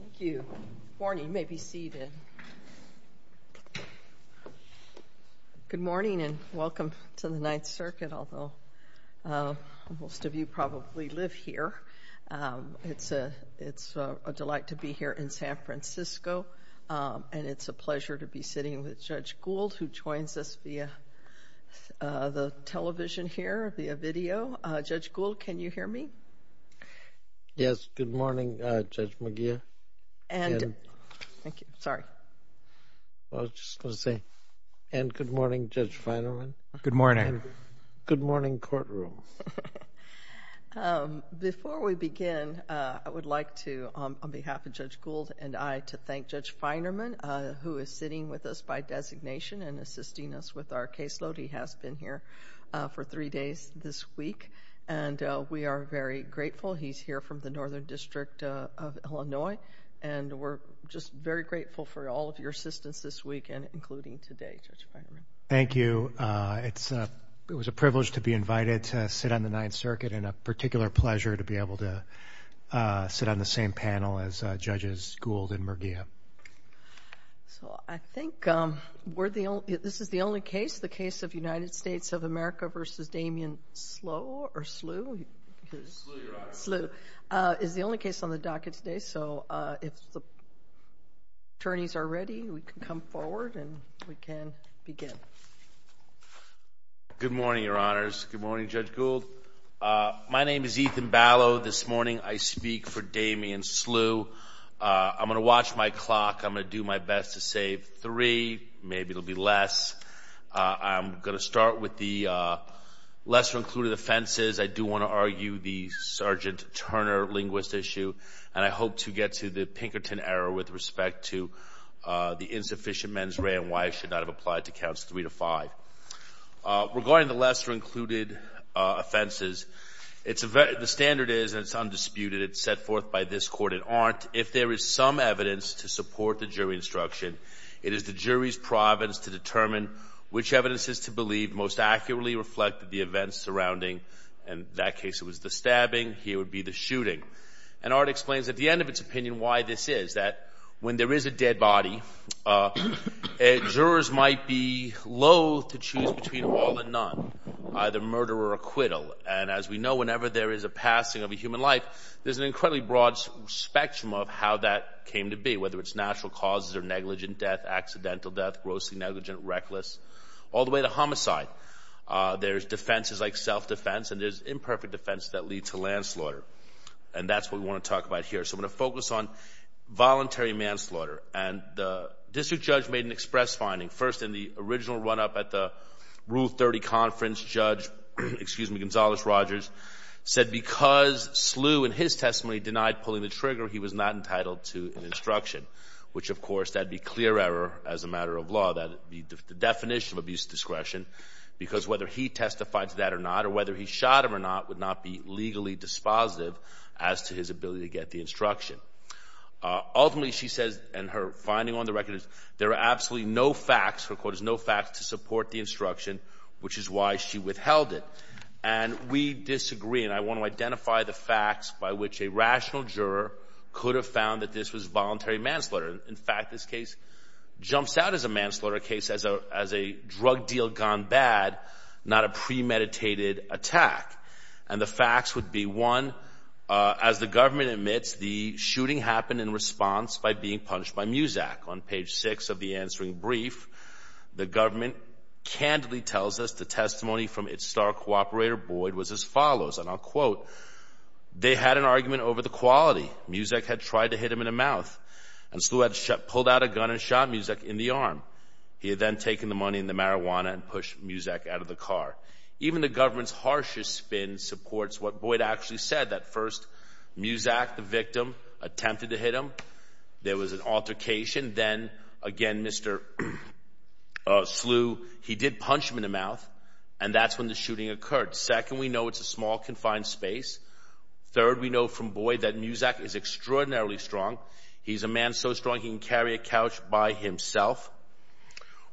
Thank you. Good morning and welcome to the Ninth Circuit, although most of you probably live here. It's a delight to be here in San Francisco, and it's a pleasure to be sitting with Judge Gould, who joins us via the television here, via video. Judge Gould, can you hear me? Yes, good morning, Judge McGeough. And good morning, Judge Feinerman. Good morning. Good morning, courtroom. Before we begin, I would like to, on behalf of Judge Gould and I, to thank Judge Feinerman, who is sitting with us by designation and assisting us with he's here from the Northern District of Illinois, and we're just very grateful for all of your assistance this weekend, including today, Judge Feinerman. Thank you. It was a privilege to be invited to sit on the Ninth Circuit, and a particular pleasure to be able to sit on the same panel as Judges Gould and McGeough. So I think this is the only case, the case of United States of America v. Damien Slew, is the only case on the docket today. So if the attorneys are ready, we can come forward and we can begin. Good morning, Your Honors. Good morning, Judge Gould. My name is Ethan Ballo. This morning I speak for Damien Slew. I'm going to watch my clock. I'm going to do my best to save three. Maybe it'll be less. I'm going to start with the lesser-included offenses. I do want to argue the Sergeant Turner linguist issue, and I hope to get to the Pinkerton error with respect to the insufficient mens rea and why it should not have applied to counts three to five. Regarding the lesser-included offenses, the standard is, and it's undisputed, it's set forth by this Court, it aren't, if there is some evidence to support the jury instruction, it is the jury's province to determine which evidence is to believe most accurately reflected the events surrounding, in that case it was the stabbing, here would be the shooting. And Art explains at the end of its opinion why this is, that when there is a dead body, jurors might be loath to choose between all and none, either murder or acquittal. And as we know, whenever there is a passing of a human life, there's an incredibly broad spectrum of how that came to be, whether it's reckless, all the way to homicide. There's defenses like self-defense, and there's imperfect defense that lead to landslaughter. And that's what we want to talk about here. So I'm going to focus on voluntary manslaughter. And the district judge made an express finding, first in the original run-up at the Rule 30 conference, Judge Gonzales-Rogers said because Slew in his testimony denied pulling the trigger, he was not entitled to an instruction, which is the definition of abuse of discretion, because whether he testified to that or not, or whether he shot him or not, would not be legally dispositive as to his ability to get the instruction. Ultimately, she says, in her finding on the record, there are absolutely no facts, her quote is, no facts to support the instruction, which is why she withheld it. And we disagree, and I want to identify the facts by which a rational juror could have found that this was voluntary manslaughter. In fact, this case jumps out as a manslaughter case, as a drug deal gone bad, not a premeditated attack. And the facts would be, one, as the government admits, the shooting happened in response by being punished by Muzak. On page six of the answering brief, the government candidly tells us the testimony from its star cooperator, Boyd, was as follows, and I'll quote, they had an argument over the quality. Muzak had tried to hit him in the mouth, and Slew had pulled out a gun and shot Muzak in the arm. He had then taken the money and the marijuana and pushed Muzak out of the car. Even the government's harshest spin supports what Boyd actually said, that first, Muzak, the victim, attempted to hit him. There was an altercation. Then, again, Mr. Slew, he did punch him in the mouth, and that's when the shooting occurred. Second, we know it's a small, confined space. Third, we know from Boyd that Muzak is extraordinarily strong. He's a man so strong, he can carry a couch by himself.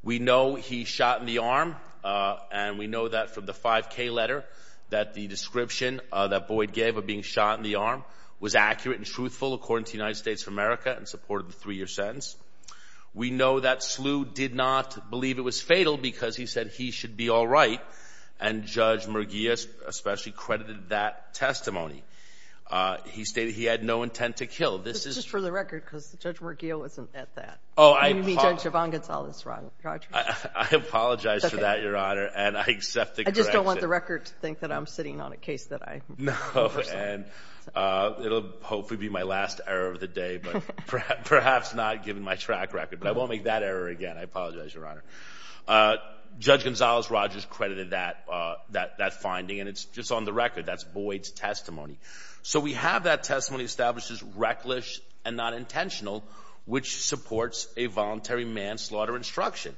We know he shot in the arm, and we know that from the 5K letter, that the description that Boyd gave of being shot in the arm was accurate and truthful, according to the United States of America, and supported the three-year sentence. We know that Slew did not believe it was fatal, because he said he should be all right, and Judge McGee, especially, credited that testimony. He stated he had no intent to kill. This is for the record, because Judge McGee wasn't at that. Oh, I apologize. I apologize for that, Your Honor, and I accept the correction. I just don't want the record to think that I'm sitting on a case that I... No, and it'll hopefully be my last error of the day, but perhaps not given my track record, but I won't make that error again. I apologize, Your Honor. Judge Gonzales-Rogers credited that finding, and it's just on the record. That's Boyd's testimony. So we have that testimony established as reckless and not intentional, which supports a voluntary manslaughter instruction.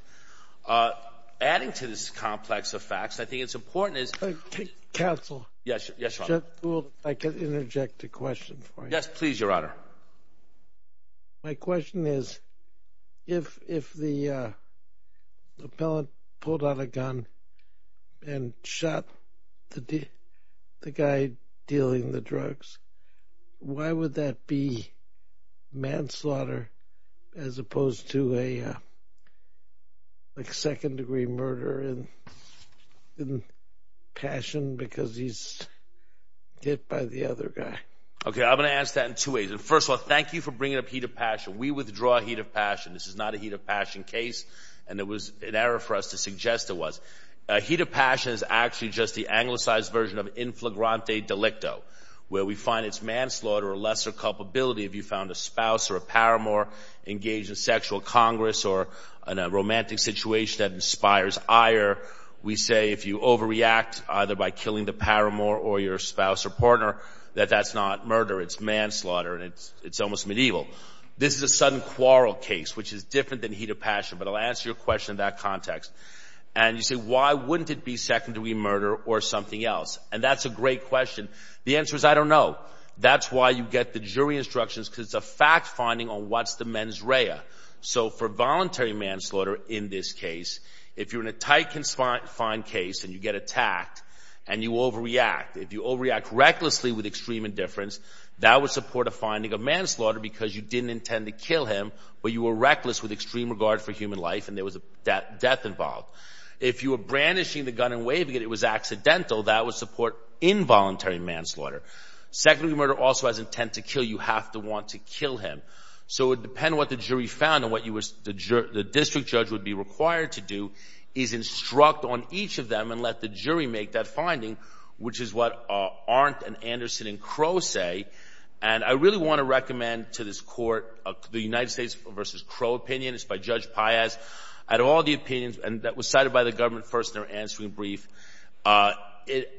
Adding to this complex of facts, I think it's important is... Counsel. Yes, Your Honor. I can interject a question for you. Yes, please, Your Honor. My question is, if the appellant pulled out a gun and shot the guy dealing the drugs, why would that be manslaughter, as opposed to a second-degree murder in Passion, because he's hit by the other guy? Okay, I'm going to answer that in two ways. First of all, thank you for bringing up Heat of Passion. We withdraw Heat of Passion. This is not a Heat of Passion case, and it was an error for us to suggest it was. Heat of Passion is actually just the anglicized version of inflagrante delicto, where we find it's manslaughter or lesser culpability if you found a spouse or a paramour engaged in sexual congress or in a romantic situation that inspires ire. We say if you overreact, either by killing the paramour or your spouse or partner, that that's not murder. It's manslaughter, and it's almost medieval. This is a sudden quarrel case, which is different than Heat of Passion, but I'll answer your question in that context. And you say, why wouldn't it be secondary murder or something else? And that's a great question. The answer is, I don't know. That's why you get the jury instructions, because it's a fact-finding on what's the mens rea. So for voluntary manslaughter in this case, if you're in a tight confined case and you get attacked and you overreact, if you overreact recklessly with extreme indifference, that would support a finding of manslaughter because you didn't intend to kill him, but you were reckless with extreme regard for human life and there was a death involved. If you were brandishing the gun and waving it, it was accidental, that would support involuntary manslaughter. Secondary murder also has intent to kill. You have to want to kill him. So it would depend on what the jury found and what the district judge would be required to do is instruct on each of them and let the jury make that finding, which is what Arndt and Anderson and Crow say. And I really want to recommend to this court, the United States v. Crow opinion. It's by Judge Piaz. Out of all the opinions, and that was cited by the government first in their answering brief, out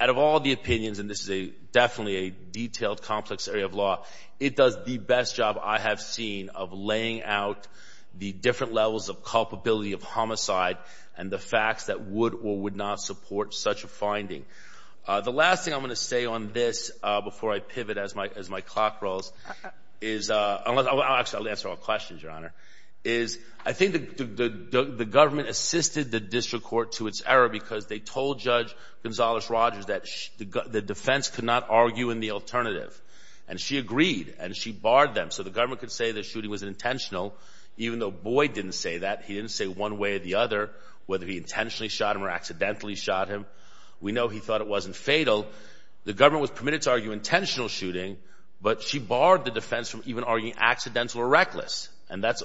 of all the opinions, and this is definitely a detailed, complex area of law, it does the best job I have seen of laying out the different levels of culpability of homicide and the facts that would or would not support such a finding. The last thing I'm going to say on this before I pivot as my clock rolls is, I'll actually answer all questions, Your Honor, is I think the government assisted the district court to its error because they told Judge Gonzales-Rogers that the defense could not argue in the alternative. And she agreed and she barred them. So the government could say the shooting was intentional, even though Boyd didn't say that. He didn't say one way or the other whether he intentionally shot him or accidentally shot him. We know he thought it wasn't fatal. The government was permitted to argue intentional shooting, but she barred the defense from even arguing accidental or reckless. And that's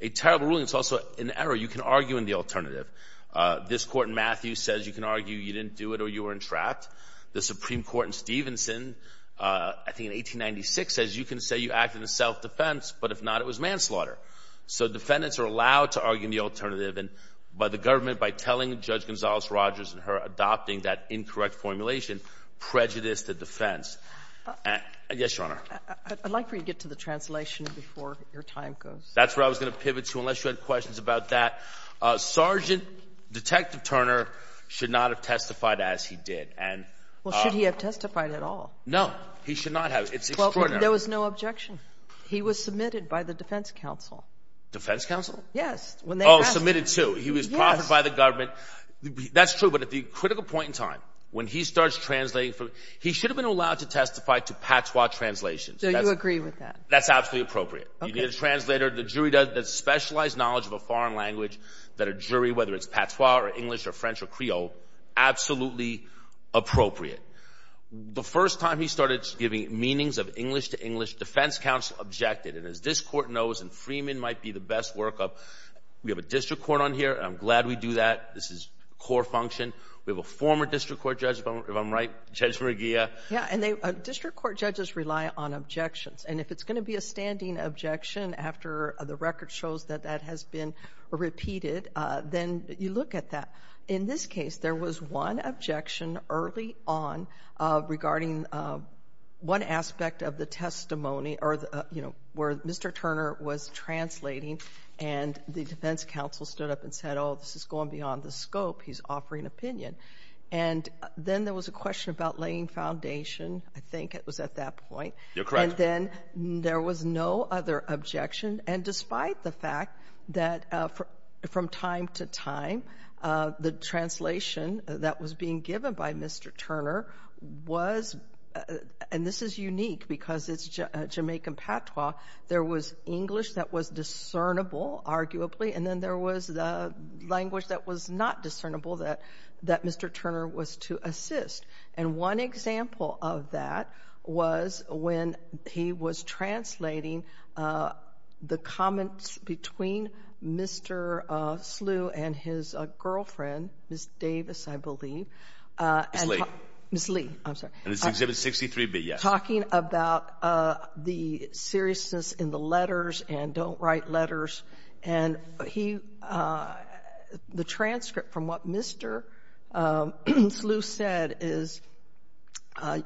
a terrible ruling. It's also an error. You can argue in the alternative. This court in Matthew says you can argue you didn't do it or you were entrapped. The Supreme Court in Stevenson, I think in 1896, says you can say you acted in self-defense, but if not, it was manslaughter. So defendants are allowed to argue in the alternative, and by the government, by telling Judge Gonzales-Rogers and her adopting that incorrect formulation, prejudice to defense. Yes, Your Honor. I'd like for you to get to the translation before your time goes. That's where I was going to pivot to, unless you had questions about that. Sergeant Detective Turner should not have testified as he did. Well, should he have testified at all? No. He should not have. It's extraordinary. There was no objection. He was submitted by the That's true, but at the critical point in time, when he starts translating, he should have been allowed to testify to patois translations. So you agree with that? That's absolutely appropriate. You need a translator. The jury does specialized knowledge of a foreign language that a jury, whether it's patois or English or French or Creole, absolutely appropriate. The first time he started giving meanings of English to English, defense counsel objected. And as this court knows, and Freeman might be the best workup, we have a district court on here. I'm glad we do that. This is core function. We have a former district court judge, if I'm right, Judge McGee. Yeah, and district court judges rely on objections. And if it's going to be a standing objection after the record shows that that has been repeated, then you look at that. In this case, there was one objection early on regarding one aspect of the testimony where Mr. Turner was translating and the defense counsel stood up and said, oh, this is going beyond the scope. He's offering opinion. And then there was a question about laying foundation. I think it was at that point. And then there was no other objection. And despite the fact that from time to time, the translation that was being given by Mr. Turner was, and this is unique because it's a Jamaican patois, there was English that was discernible, arguably, and then there was the language that was not discernible that Mr. Turner was to assist. And one example of that was when he was translating the comments between Mr. Slew and his girlfriend, Ms. Davis, I believe. Ms. Lee. Ms. Lee, I'm and don't write letters. And he, the transcript from what Mr. Slew said is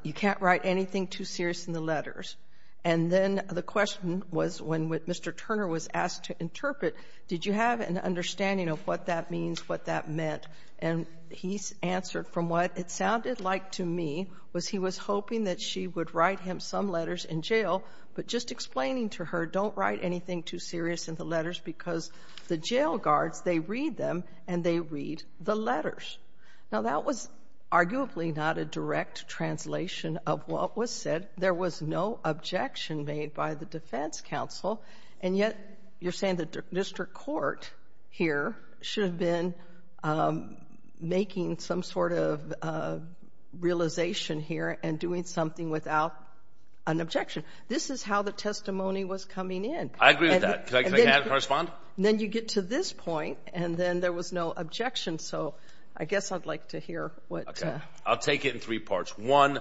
you can't write anything too serious in the letters. And then the question was when Mr. Turner was asked to interpret, did you have an understanding of what that means, what that meant? And he answered from what it sounded like to me was he was hoping that she would write him some explaining to her, don't write anything too serious in the letters because the jail guards, they read them and they read the letters. Now that was arguably not a direct translation of what was said. There was no objection made by the defense counsel. And yet you're saying the district court here should have been making some sort of realization here and doing something without an objection. This is how the testimony was coming in. I agree with that. Can I correspond? Then you get to this point and then there was no objection. So I guess I'd like to hear what. I'll take it in three parts. One,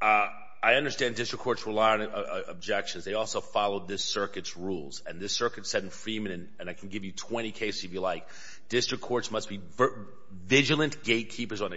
I understand district courts rely on objections. They also follow this circuit's rules and this circuit said in Freeman, and I can give you 20 cases if you like, district courts must be vigilant gatekeepers on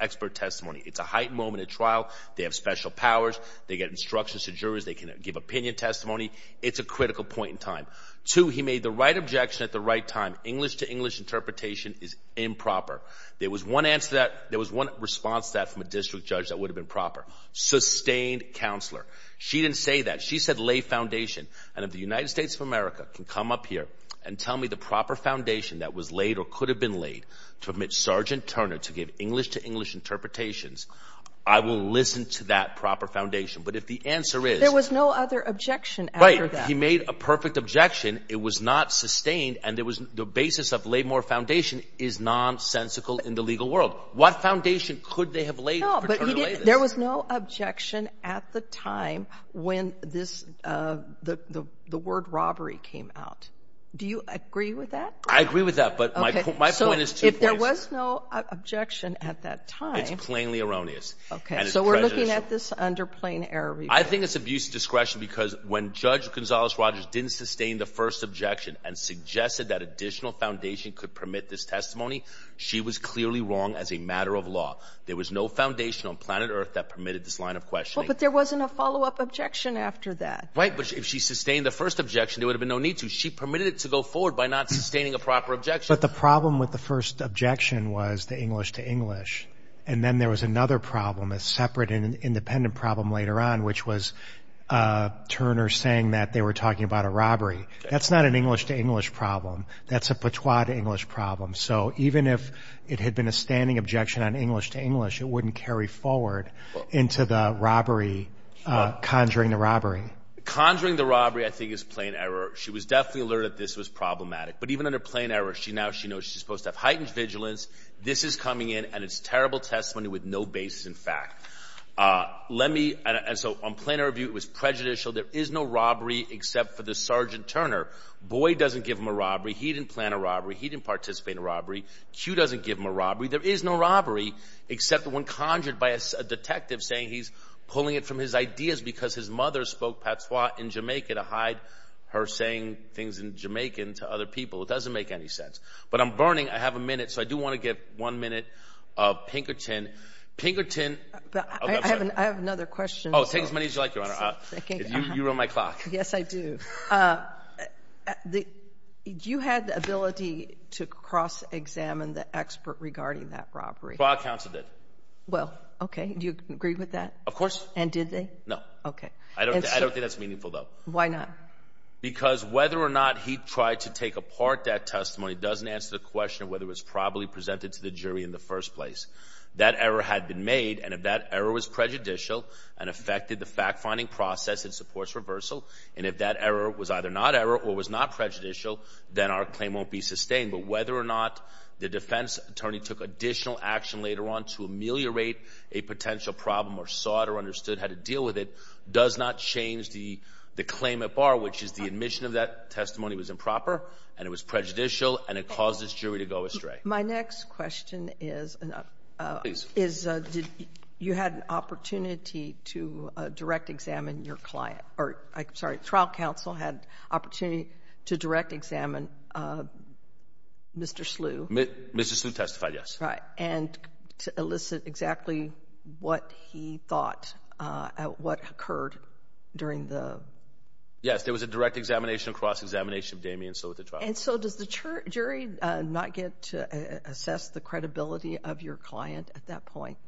expert testimony. It's a heightened moment at trial. They have special powers. They get instructions to jurors. They can give opinion testimony. It's a critical point in time. Two, he made the right objection at the right time. English to English interpretation is improper. There was one answer that there was one response that from a district judge that would have been proper sustained counselor. She didn't say that. She said lay foundation. And if the United States of America can come up here and tell me the proper foundation that was laid or could have been laid to admit Sergeant Turner to give English to English interpretations, I will listen to that proper foundation. But if the answer is there was no other objection, he made a perfect objection. It was not sustained. And there was the basis of laymore foundation is nonsensical in the legal world. What foundation could they have laid? There was no objection at the time when this the the the word robbery came out. Do you agree with that? I agree with that. But my point is, if there was no objection at that time, it's plainly erroneous. So we're looking at this under plain error. I think it's abuse of discretion because when Judge Gonzalez Rogers didn't sustain the first objection and suggested that additional foundation could permit this testimony, she was clearly wrong as a matter of law. There was no foundation on planet Earth that permitted this line of question. But there wasn't a follow up objection after that. Right. But if she sustained the first objection, there would have been no need to. She permitted it to go forward by not sustaining a proper objection. But the problem with the first objection was the English to English. And then there was another problem, a separate and independent problem later on, which was Turner saying that they were talking about a robbery. That's not an English to English problem. That's a patois to English problem. So even if it had been a standing objection on English to English, it wouldn't carry forward into the robbery, conjuring the robbery, conjuring the robbery, I think is plain error. She was definitely alerted. This was problematic. But even under plain error, she now she knows she's supposed to have heightened vigilance. This is coming in and it's terrible testimony with no basis. In fact, let me. And so I'm playing a review. It was prejudicial. There is no robbery except for the Sergeant Turner. Boy doesn't give him a robbery. He didn't plan a robbery. He didn't participate in a robbery. She doesn't give him a robbery. There is no robbery except the one conjured by a detective saying he's pulling it from his ideas because his mother spoke patois in Jamaica to hide her saying things in Jamaican to other people. It doesn't make any sense. But I'm burning. I have a minute. So I do want to get one minute of Pinkerton Pinkerton. I have another question. Oh, take as many as you like. You're on my clock. Yes, I do. You had the ability to cross examine the expert regarding that robbery. Well, I counted it. Well, OK. Do you agree with that? Of course. And did they know? OK, I don't think that's meaningful, though. Why not? Because whether or not he tried to take apart that testimony doesn't answer the question of whether it was probably presented to the jury in the first place. That error had been made. And if that error was prejudicial and affected the fact finding process, it supports reversal. And if that error was either not error or was not prejudicial, then our claim won't be sustained. But whether or not the defense attorney took additional action later on to ameliorate a potential problem or sought or understood how to deal with it does not change the claim at bar, which is the admission of that testimony was improper and it was prejudicial and it caused this jury to go astray. My next question is, is you had an opportunity to direct examine your client or sorry, trial counsel had opportunity to direct examine Mr. Slew. Mr. Slew testified, yes. Right. And to elicit exactly what he thought at what occurred during the. Yes, there was a direct examination, cross-examination of Damien Slew at the trial. And so does the jury not get to assess the credibility of your client at that point?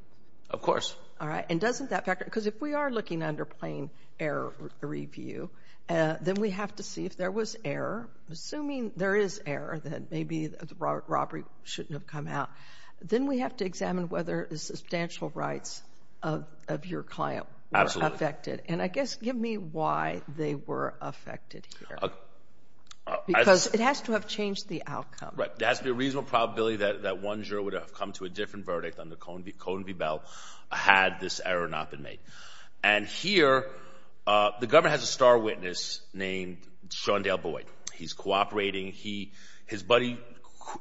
Of course. All right. And doesn't that factor? Because if we are looking under plain error review, then we have to see if there was error. Assuming there is error, then maybe the robbery shouldn't have come out. Then we have to examine whether the substantial rights of your client were affected. And I guess, give me why they were affected here. Because it has to have changed the outcome. Right. There has to be a reasonable probability that one juror would have come to a different verdict on the Cone v. Bell had this error not been made. And here, the government has a star witness named Shondell Boyd. He's cooperating. His buddy,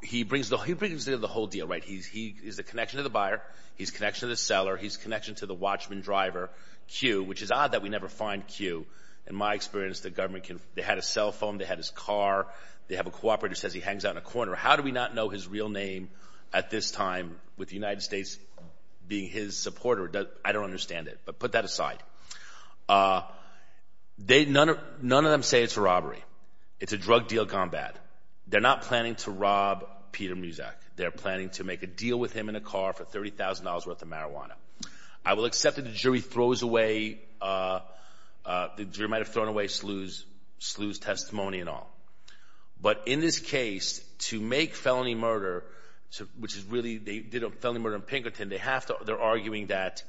he brings the whole deal. Right. He is the connection to the buyer. He's connection to the seller. He's connection to the watchman driver, Q, which is odd that we never find Q. In my experience, the government can, they had a cell phone. They had his car. They have a cooperator says he hangs out in a corner. How do we not know his real name at this time with the United States being his supporter? I don't understand it, but put that aside. None of them say it's a robbery. It's a drug deal gone bad. They're not planning to rob Peter Muszak. They're planning to make a deal with him in a car for $30,000 worth of marijuana. I will accept that the jury might have thrown away Slew's in this case to make felony murder, which is really, they did a felony murder in Pinkerton. They're arguing that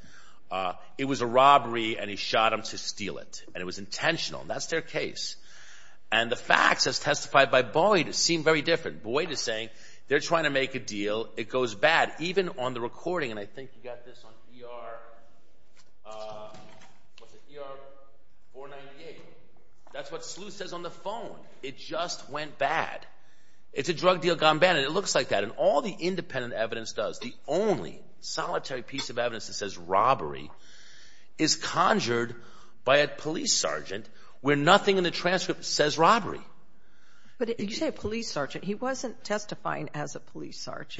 it was a robbery and he shot him to steal it. And it was intentional. That's their case. And the facts as testified by Boyd seem very different. Boyd is saying they're trying to make a deal. It goes bad. Even on the recording, and I think you got this on ER, what's it, ER 498. That's what Slew says on the phone. It just went bad. It's a drug deal gone bad. And it looks like that. And all the independent evidence does, the only solitary piece of evidence that says robbery, is conjured by a police sergeant where nothing in the transcript says robbery. But did you say a police sergeant? He wasn't testifying as a police sergeant.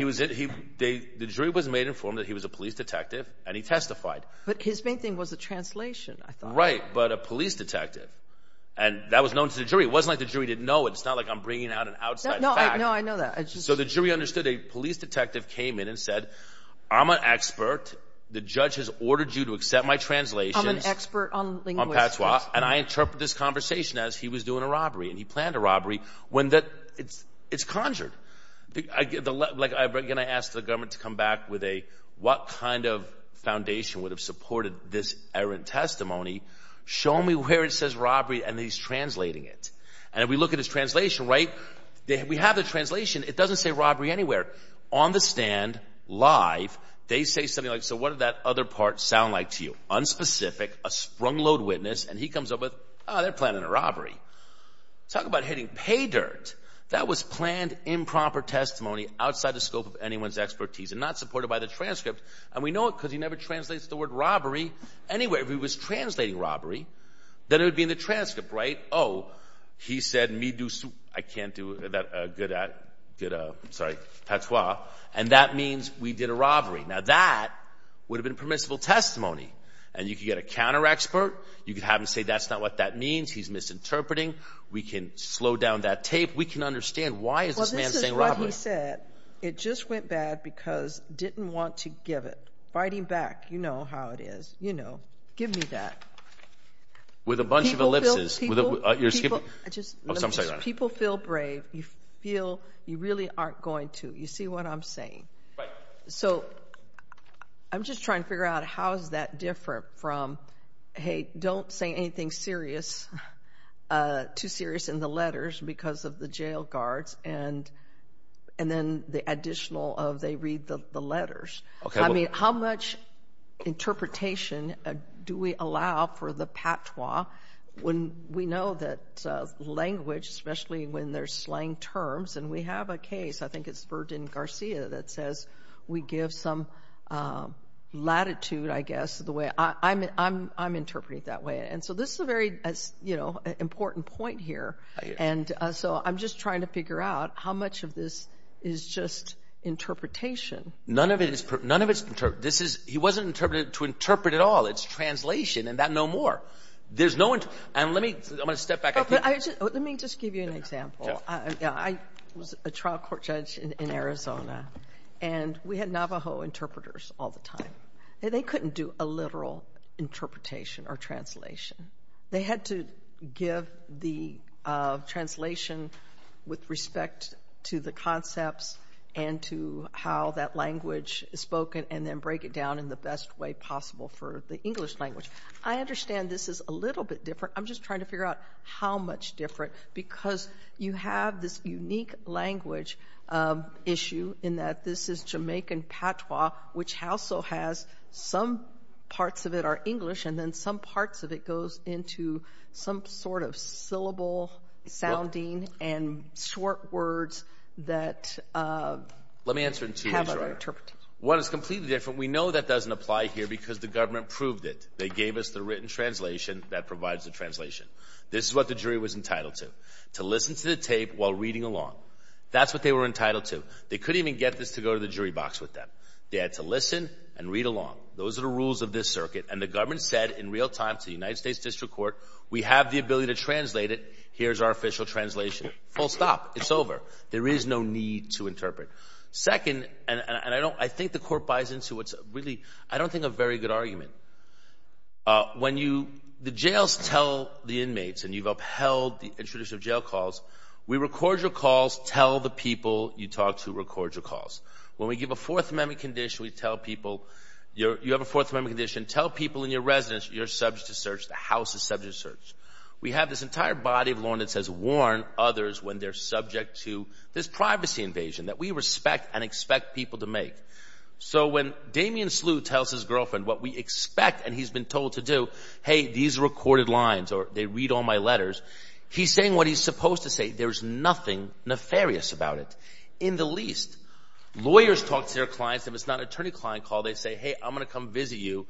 The jury was made informed that he was a police detective and he testified. But his main thing was the translation, I thought. Right, but a police detective. And that was known to the jury. It wasn't like the jury didn't know. It's not like I'm bringing out an outside fact. No, I know that. So the jury understood a police detective came in and said, I'm an expert. The judge has ordered you to accept my translation. I'm an expert on linguistics. And I interpret this conversation as he was doing a robbery. And he planned a robbery. It's conjured. Again, I asked the government to come back with a, what kind of foundation would have supported this errant testimony? Show me where it says robbery and he's translating it. And if we look at his translation, right, we have the translation. It doesn't say robbery anywhere. On the stand, live, they say something like, so what did that other part sound like to you? Unspecific, a sprung load witness, and he comes up with, oh, they're planning a robbery. Talk about hitting pay dirt. That was planned improper testimony outside the scope of anyone's expertise and not supported by the transcript. And we know it because he never translates the word robbery anywhere. If he was translating robbery, then it would be in the transcript, right? Oh, he said, me do, I can't do that, uh, good, uh, good, uh, sorry. That's why. And that means we did a robbery. Now that would have been permissible testimony and you could get a counter expert. You could have him say, that's not what that means. He's misinterpreting. We can slow down that tape. We can understand why is this man saying robbery? Well, this is what he said. It just went bad because didn't want to give it. Fight him back. You know how it is. You know, give me that. With a bunch of ellipses. People feel brave. You feel you really aren't going to, you see what I'm saying? So I'm just trying to figure out how is that different from, hey, don't say anything serious, uh, too serious in the letters because of the jail guards and, and then the additional of they read the letters. I mean, how much interpretation, uh, do we allow for the patois when we know that, uh, language, especially when there's slang terms and we have a case, I think it's Ferdinand Garcia that says we give some, um, latitude, I guess, the way I'm, I'm, I'm interpreting that way. And so this is a very, you know, important point here. And so I'm just trying to figure out how much of this is just interpretation. None of it is, none of it's, this is, he wasn't interpreted to interpret at all. It's translation and that no more. There's no one. And let me, I'm going to step back. Let me just give you an example. I was a trial court judge in Arizona and we had Navajo interpreters all the time. They couldn't do a literal interpretation or translation. They had to give the, uh, translation with respect to the concepts and to how that language is spoken and then break it down in the best way possible for the English language. I understand this is a little bit different. I'm just trying to figure out how much different because you have this unique language, um, issue in that this is Jamaican Patois, which also has some parts of it are English and then some parts of it goes into some sort of syllable sounding and short words that, uh, have an interpretation. Let me answer it in two ways, Your Honor. One, it's completely different. We know that doesn't apply here because the government proved it. They gave us the written translation that provides the translation. This is what the jury was entitled to, to listen to the tape while reading along. That's what they were entitled to. They couldn't even get this to go to the jury box with them. They had to listen and read along. Those are the rules of this circuit. And the government said in real time to the United States District Court, we have the ability to translate it. Here's our official translation. Full stop. It's over. There is no need to interpret. Second, and I don't, I think the court buys into what's really, I don't think a very good argument. Uh, when you, the jails tell the inmates and you've upheld the introduction of jail calls, we record your calls, tell the people you talk to record your calls. When we give a Fourth Amendment condition, we tell people you're, you have a Fourth Amendment condition, tell people in your residence you're subject to search, the house is subject to search. We have this entire body of law that says warn others when they're subject to this privacy invasion that we respect and expect people to make. So when Damien Slew tells his girlfriend what we expect and he's been told to do, hey, these are recorded lines or they read all my letters, he's saying what he's supposed to say. There's nothing nefarious about it. In the least, lawyers talk to their clients. If it's not an attorney client call, they say, hey, I'm going to come visit you.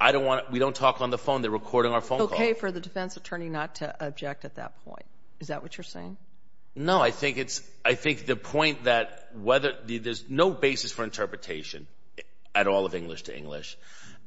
I don't want to, we don't talk on the phone. They're recording our phone call. It's okay for the defense attorney not to object at that point. Is that what you're saying? No, I think it's, I think the point that whether, there's no basis for interpretation at all of English to English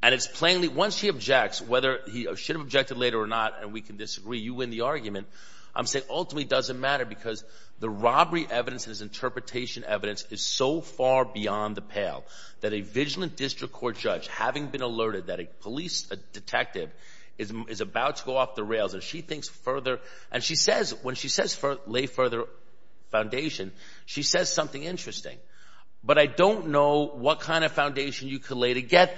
and it's plainly, once he objects, whether he should have objected later or not, and we can disagree, you win the argument, I'm saying ultimately it doesn't matter because the robbery evidence and his interpretation evidence is so far beyond the pale that a vigilant district court judge, having been alerted that a police detective is about to go off the rails and she thinks further, and she says, when she says lay further foundation, she says something interesting. But I don't know what kind of foundation you are talking about.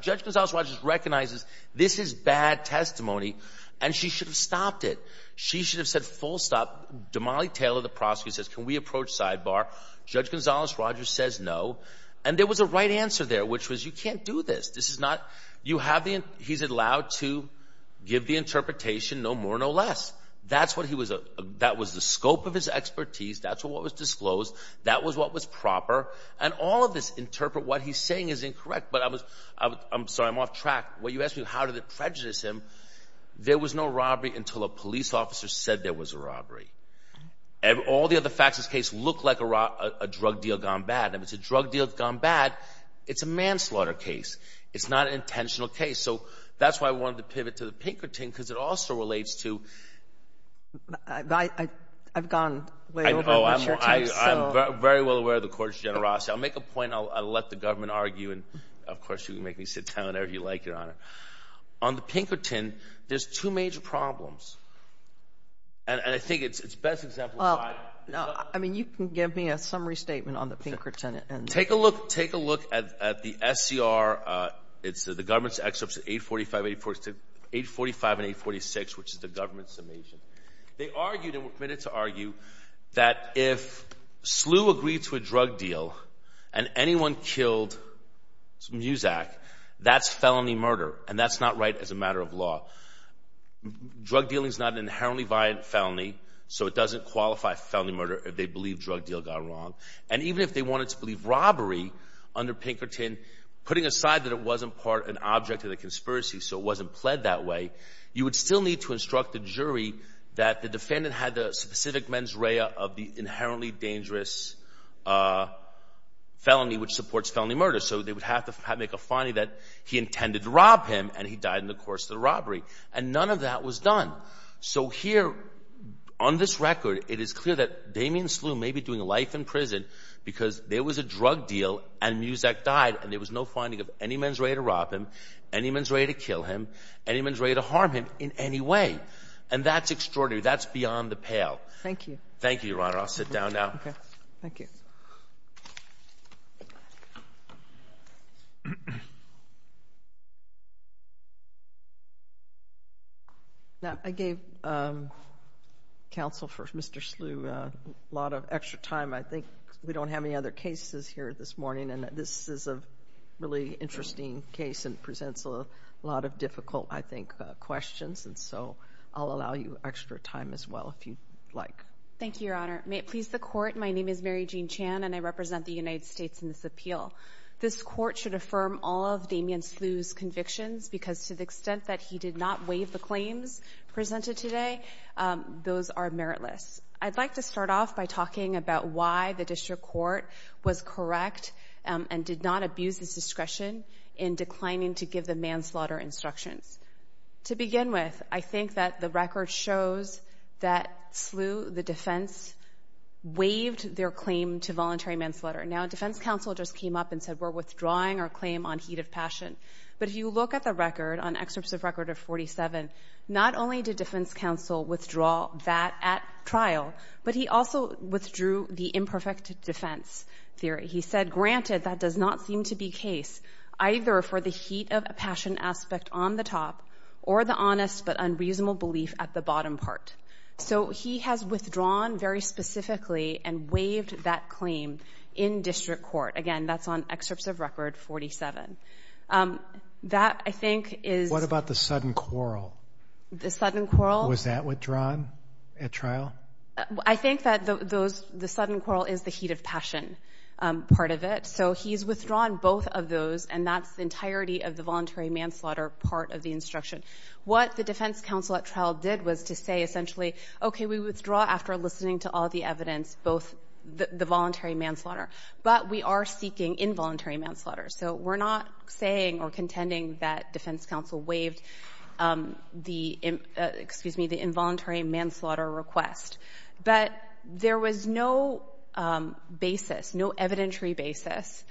Judge Gonzales-Rogers recognizes this is bad testimony and she should have stopped it. She should have said full stop. Damali Taylor, the prosecutor, says can we approach sidebar? Judge Gonzales-Rogers says no. And there was a right answer there, which was you can't do this. This is not, you have the, he's allowed to give the interpretation, no more, no less. That's what he was, that was the scope of his expertise. That's what was disclosed. That was what was proper. And all of this interpret what he's saying is incorrect. But I was, I'm sorry, I'm off track. When you asked me how did it prejudice him, there was no robbery until a police officer said there was a robbery. All the other facts of this case look like a drug deal gone bad. If it's a drug deal that's gone bad, it's a manslaughter case. It's not an intentional case. So that's why I wanted to pivot to the Pinkerton because it also relates to... I've gone way over my shirt here. I'm very well aware of the Court's generosity. I'll make a point, I'll let the government argue, and of course you can make me sit down whenever you like, Your Honor. On the Pinkerton, there's two major problems. And I think it's best exemplified... Well, I mean, you can give me a summary statement on the Pinkerton and... Take a look, take a look at the SCR. It's the government's excerpts at 845 and 846, which is the government's summation. They argued, and were permitted to argue, that if Slew agreed to a drug deal and anyone killed Muzak, that's felony murder. And that's not right as a matter of law. Drug dealing is not an inherently violent felony, so it doesn't qualify felony murder if they believe drug deal gone wrong. And even if they wanted to believe robbery under Pinkerton, putting aside that it wasn't part, an object of the conspiracy, so it wasn't pled that way, you would still need to instruct the jury that the defendant had the specific mens rea of the inherently dangerous felony, which supports felony murder. So they would have to make a finding that he intended to rob him, and he died in the course of the robbery. And none of that was done. So here, on this record, it is clear that Damien Slew may be doing life in prison because there was a drug deal and Muzak died, and there was no finding of any mens rea to rob him, any mens rea to kill him, any mens rea to kill him. That's extraordinary. That's beyond the pale. Thank you. Thank you, Your Honor. I'll sit down now. Okay. Thank you. Now, I gave counsel for Mr. Slew a lot of extra time. I think we don't have any other cases here this morning, and this is a really interesting case and presents a lot of difficult, I think, questions, and so I'll allow you extra time as well if you'd like. Thank you, Your Honor. May it please the Court, my name is Mary Jean Chan, and I represent the United States in this appeal. This Court should affirm all of Damien Slew's convictions because to the extent that he did not waive the claims presented today, those are meritless. I'd like to start off by talking about why the District Court was correct and did not abuse its discretion in declining to give the manslaughter instructions. To begin with, I think that the record shows that Slew, the defense, waived their claim to voluntary manslaughter. Now, defense counsel just came up and said, we're withdrawing our claim on heat of passion, but if you look at the record, on excerpts of record of 47, not only did defense counsel withdraw that at trial, but he also withdrew the imperfect defense theory. He said, granted, that does not seem to be case, either for the heat of passion aspect on the top or the honest but unreasonable belief at the bottom part. So he has withdrawn very specifically and waived that claim in District Court. Again, that's on excerpts of record 47. That, I think, is... What about the sudden quarrel? The sudden quarrel... Was that withdrawn at trial? I think that the sudden quarrel is the heat of passion part of it. So he's withdrawn both of those, and that's the entirety of the voluntary manslaughter part of the instruction. What the defense counsel at trial did was to say, essentially, okay, we withdraw after listening to all the evidence, both the voluntary manslaughter, but we are seeking involuntary manslaughter. So we're not saying or contending that defense counsel waived the involuntary manslaughter request. But there was no basis, no evidentiary basis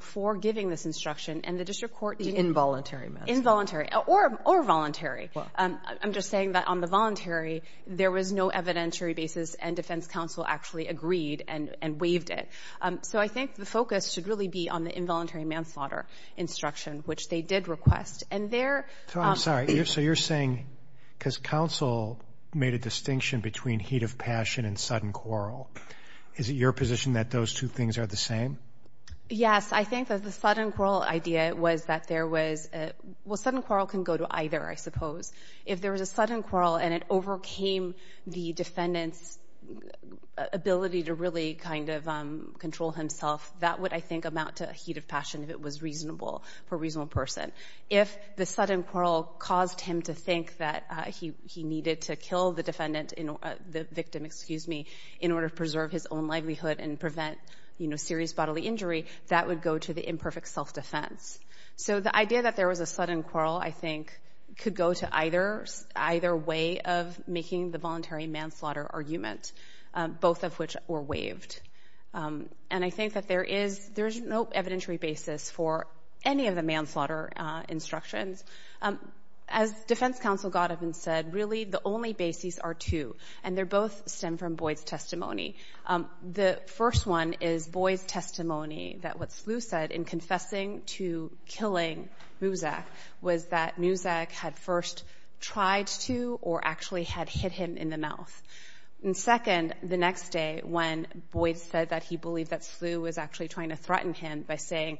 for giving this instruction, and the District Court... The involuntary manslaughter. Involuntary, or voluntary. I'm just saying that on the voluntary, there was no evidentiary basis, and defense counsel actually agreed and waived it. So I think the focus should really be on the involuntary manslaughter instruction, which they did request. And there... I'm sorry. So you're saying... Because counsel made a distinction between heat of passion and sudden quarrel. Is it your position that those two things are the same? Yes. I think that the sudden quarrel idea was that there was... Well, sudden quarrel can go to either, I suppose. If there was a sudden quarrel and it overcame the defendant's ability to really kind of control himself, that would, I think, amount to a heat of passion if it was reasonable, for a reasonable person. If the sudden quarrel caused him to think that he needed to kill the defendant, the victim, excuse me, in order to preserve his own livelihood and prevent serious bodily injury, that would go to the imperfect self-defense. So the idea that there was a sudden quarrel, I think, could go to either way of making the voluntary manslaughter argument, both of which were waived. And I think that there is no evidentiary basis for any of the manslaughter instructions. As Defense Counsel Godovan said, really the only bases are two, and they both stem from Boyd's testimony. The first one is Boyd's testimony that what Slough said in confessing to killing Muzak was that Muzak had first tried to or actually had hit him in the mouth. And second, the next day when Boyd said that he believed that Slough was actually trying to threaten him by saying,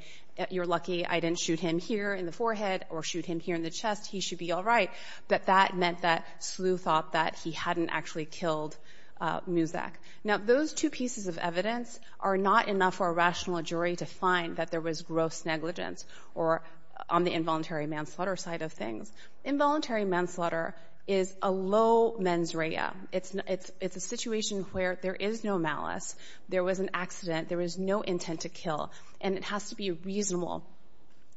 you're lucky I didn't shoot him here in the forehead or shoot him here in the chest, he should be all right, that that meant that Slough thought that he hadn't actually killed Muzak. Now, those two pieces of evidence are not enough for a rational jury to find that there was gross negligence on the involuntary manslaughter side of things. Involuntary manslaughter is a low mens rea. It's a situation where there is no malice. There was an accident. There was no intent to kill. And it has to be reasonable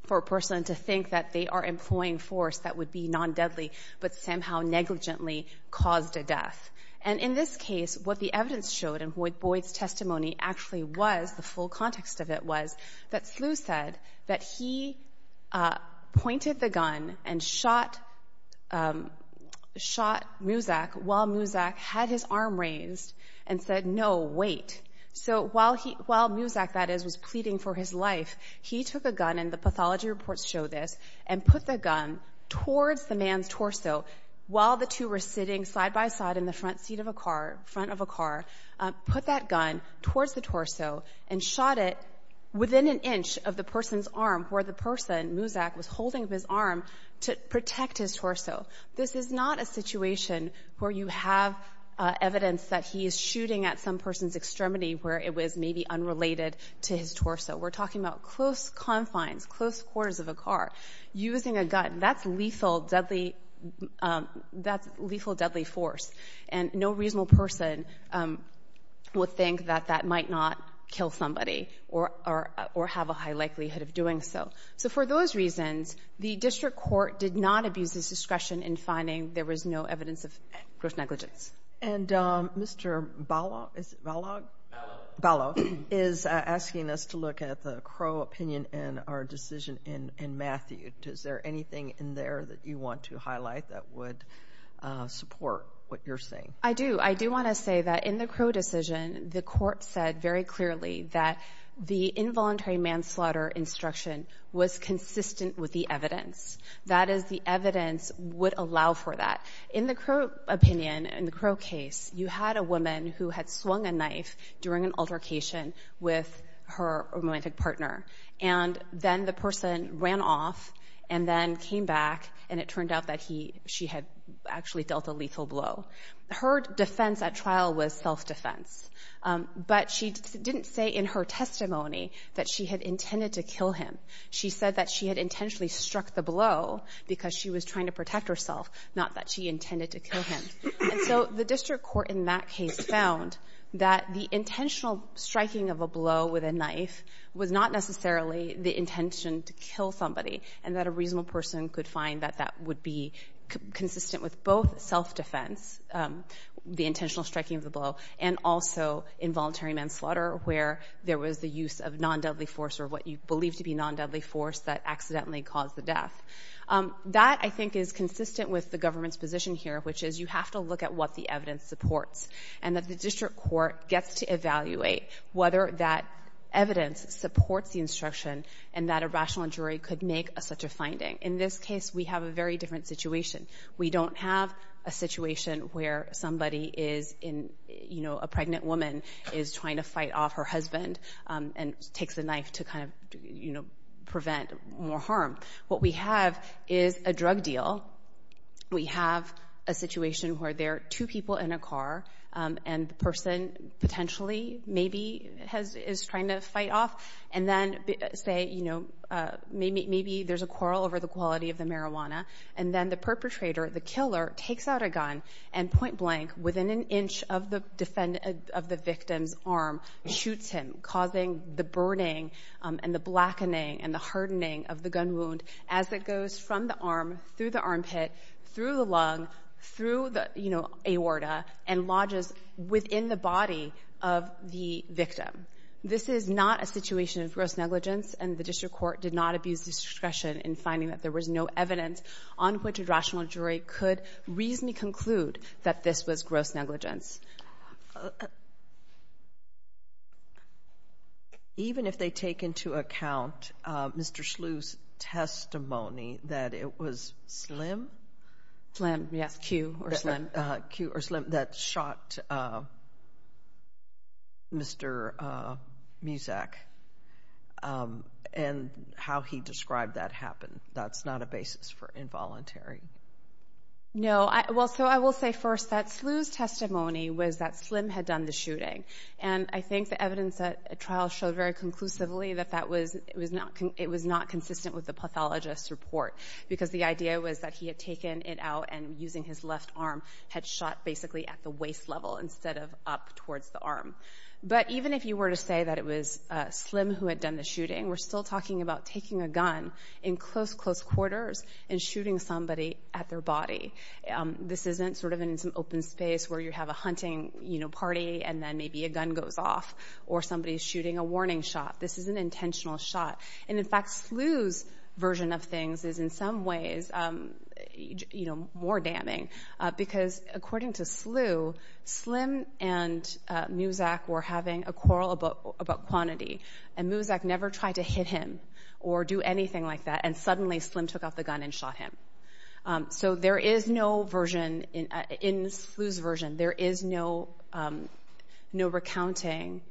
for a person to think that they are employing force that would be non-deadly, but somehow negligently caused a death. And in this case, what the evidence showed and what Boyd's testimony actually was, the full said that he pointed the gun and shot Muzak while Muzak had his arm raised and said, no, wait. So while Muzak, that is, was pleading for his life, he took a gun, and the pathology reports show this, and put the gun towards the man's torso while the two were sitting side by side in the front seat of a car, front of a car, put that gun towards the torso and shot it within an inch of the person's arm where the person, Muzak, was holding his arm to protect his torso. This is not a situation where you have evidence that he is shooting at some person's extremity where it was maybe unrelated to his torso. We're talking about close confines, close quarters of a car. Using a gun, that's lethal deadly force. And no one might not kill somebody or have a high likelihood of doing so. So for those reasons, the district court did not abuse its discretion in finding there was no evidence of gross negligence. And Mr. Bala, is it Bala? Bala is asking us to look at the Crow opinion in our decision in Matthew. Is there anything in there that you want to highlight that would support what you're saying? I do. I do want to say that in the Crow decision, the court said very clearly that the involuntary manslaughter instruction was consistent with the evidence. That is, the evidence would allow for that. In the Crow opinion, in the Crow case, you had a woman who had swung a knife during an altercation with her romantic partner. And then the person ran off and then came back and it turned out that she had actually dealt a lethal blow. Her defense at trial was self-defense. But she didn't say in her testimony that she had intended to kill him. She said that she had intentionally struck the blow because she was trying to protect herself, not that she intended to kill him. And so the district court in that case found that the intentional striking of a blow with a knife was not necessarily the case. And could find that that would be consistent with both self-defense, the intentional striking of the blow, and also involuntary manslaughter where there was the use of non-deadly force or what you believe to be non-deadly force that accidentally caused the death. That, I think, is consistent with the government's position here, which is you have to look at what the evidence supports. And that the district court gets to evaluate whether that evidence supports the instruction and that a rational jury could make such a finding. In this case, we have a very different situation. We don't have a situation where somebody is in, you know, a pregnant woman is trying to fight off her husband and takes the knife to kind of, you know, prevent more harm. What we have is a drug deal. We have a situation where there are two people in a car and the person potentially maybe is trying to fight off. And then say, you know, maybe there's a quarrel over the quality of the marijuana. And then the perpetrator, the killer, takes out a gun and point blank, within an inch of the victim's arm, shoots him, causing the burning and the blackening and the hardening of the gun wound as it goes from the arm, through the armpit, through the lung, through the, you know, aorta, and lodges within the body of the victim. This is not a situation of gross negligence. And the district court did not abuse discretion in finding that there was no evidence on which a rational jury could reasonably conclude that this was gross negligence. Even if they take into account Mr. Slew's testimony that it was Slim? Slim, yes. Q or Slim. Q or Slim that shot Mr. Muszak and how he described that happened. That's not a basis for involuntary. No. Well, so I will say first that Slew's testimony was that Slim had done the shooting. And I think the evidence at trial showed very conclusively that that was, it was not consistent with the pathologist's report. Because the idea was that he had taken it out and using his left arm, had shot basically at the waist level instead of up towards the arm. But even if you were to say that it was Slim who had done the shooting, we're still talking about taking a gun in close, close quarters and shooting somebody at their body. This isn't sort of in some open space where you have a hunting, you know, party and then maybe a gun goes off or somebody's shooting a warning shot. This is an intentional shot. And in fact, Slew's version of things is in some ways, you know, more damning. Because according to Slew, Slim and Muszak were having a quarrel about quantity. And Muszak never tried to hit him or do anything like that. And suddenly Slim took out the gun and shot him. So there is no version, in Slew's version, there is no recounting,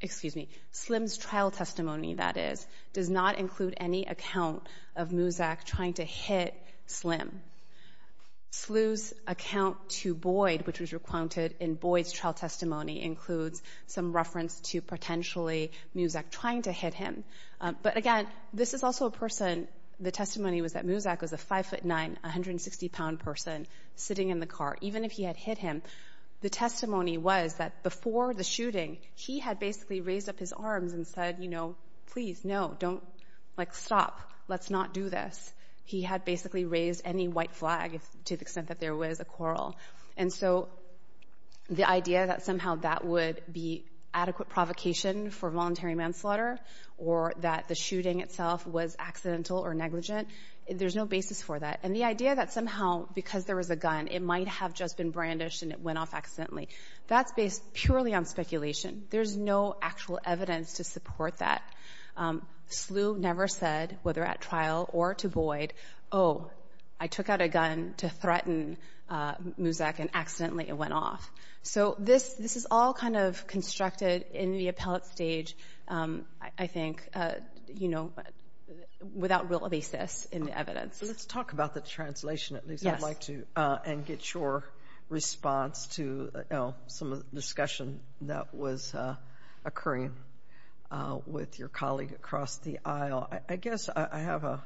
excuse me, Slim's trial testimony that is, does not include any account of Muszak trying to hit Slim. Slew's account to Boyd, which was recounted in Boyd's trial testimony, includes some reference to potentially Muszak trying to hit him. But again, this is also a person, the testimony was that Muszak was a five foot nine, 160 pound person sitting in the car. Even if he had hit him, the testimony was that before the shooting, he had basically raised up his arms and said, you know, please, no, don't, like stop, let's not do this. He had basically raised any white flag to the extent that there was a quarrel. And so the idea that somehow that would be adequate provocation for voluntary manslaughter or that the shooting itself was accidental or negligent, there's no basis for that. And the idea that somehow, because there was a gun, it might have just been brandished and it went off accidentally, that's based purely on speculation. There's no actual evidence to support that. Slew never said, whether at trial or to Boyd, oh, I took out a gun to threaten Muszak and accidentally it went off. So this, this is all kind of constructed in the appellate stage, I think, you know, without real basis in the evidence. So let's talk about the translation, at least I'd like to, and get your response to some of the discussion that was occurring with your colleague across the aisle. I guess I have a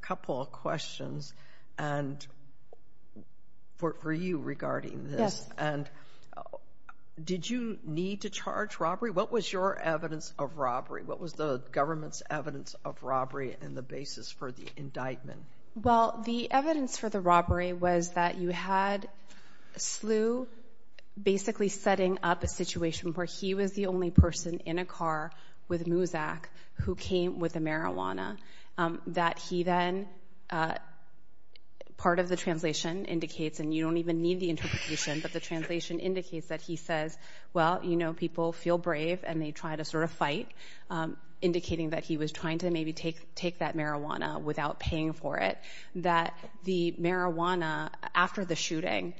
couple of questions and for you regarding this. And did you need to charge robbery? What was your evidence of robbery? What was the government's evidence of robbery and the basis for the indictment? Well, the evidence for the robbery was that you had Slew basically setting up a situation where he was the only person in a car with marijuana, that he then, part of the translation indicates, and you don't even need the interpretation, but the translation indicates that he says, well, you know, people feel brave and they try to sort of fight, indicating that he was trying to maybe take that marijuana without paying for it. That the marijuana, after the shooting,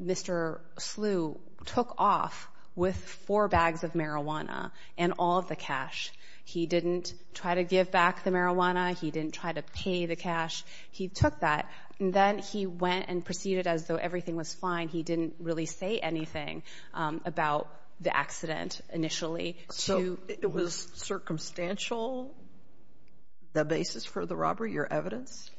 Mr. Slew took off with four bags of marijuana and all of the cash. He didn't try to give back the marijuana. He didn't try to pay the cash. He took that and then he went and proceeded as though everything was fine. He didn't really say anything about the accident initially. So it was circumstantial, the basis for the robbery, your evidence?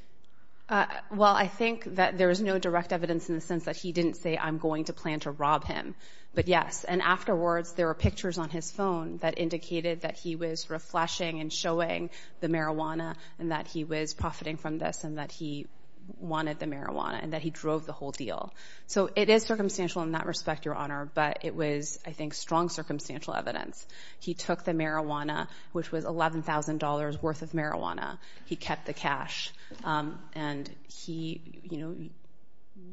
Well, I think that there is no direct evidence in the sense that he didn't say, I'm going to plan to rob him. But yes, and afterwards there were pictures on his phone that indicated that he was reflashing and showing the marijuana and that he was profiting from this and that he wanted the marijuana and that he drove the whole deal. So it is circumstantial in that respect, your honor, but it was, I think, strong circumstantial evidence. He took the marijuana, which was $11,000 worth of marijuana. He kept the cash and he, you know,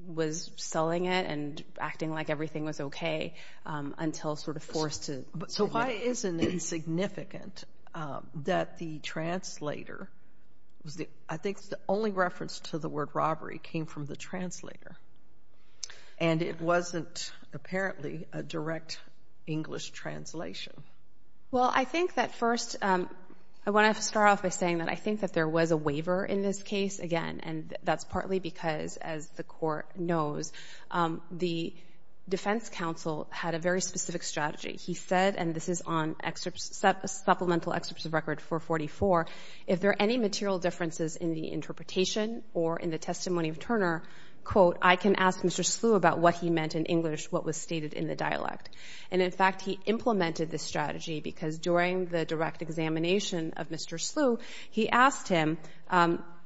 was selling it and acting like everything was okay until sort of forced to... So why isn't it significant that the translator, I think the only reference to the word robbery came from the translator and it wasn't apparently a direct English translation? Well I think that first, I want to start off by saying that I think that there was a waiver in this case, again, and that's partly because, as the court knows, the defense counsel had a very specific strategy. He said, and this is on supplemental excerpts of record 444, if there are any material differences in the interpretation or in the testimony of Turner, quote, I can ask Mr. Slew about what he meant in English, what was stated in the dialect. And in fact, he implemented this strategy because during the direct examination of Mr. Slew,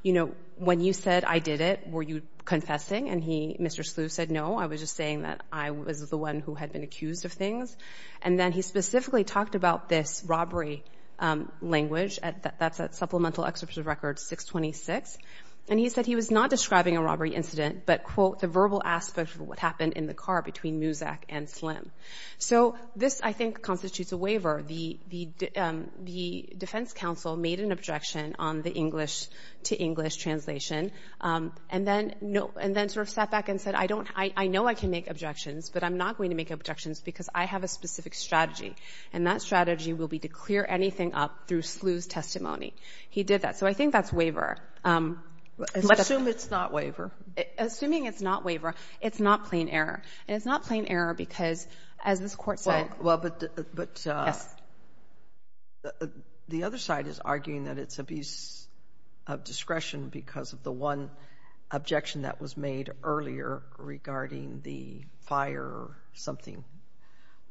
you know, when you said, I did it, were you confessing? And Mr. Slew said, no, I was just saying that I was the one who had been accused of things. And then he specifically talked about this robbery language, that's at supplemental excerpts of record 626. And he said he was not describing a robbery incident, but, quote, the verbal aspect of what happened in the car between Muzak and Slim. So this, I think, constitutes a waiver. The defense counsel made an objection on the English to English translation, and then sort of sat back and said, I know I can make objections, but I'm not going to make objections because I have a specific strategy, and that strategy will be to clear anything up through Slew's testimony. He did that. So I think that's waiver. Assume it's not waiver. Assuming it's not waiver, it's not plain error. And it's not plain error because, as this court said, Well, but the other side is arguing that it's abuse of discretion because of the one objection that was made earlier regarding the fire something.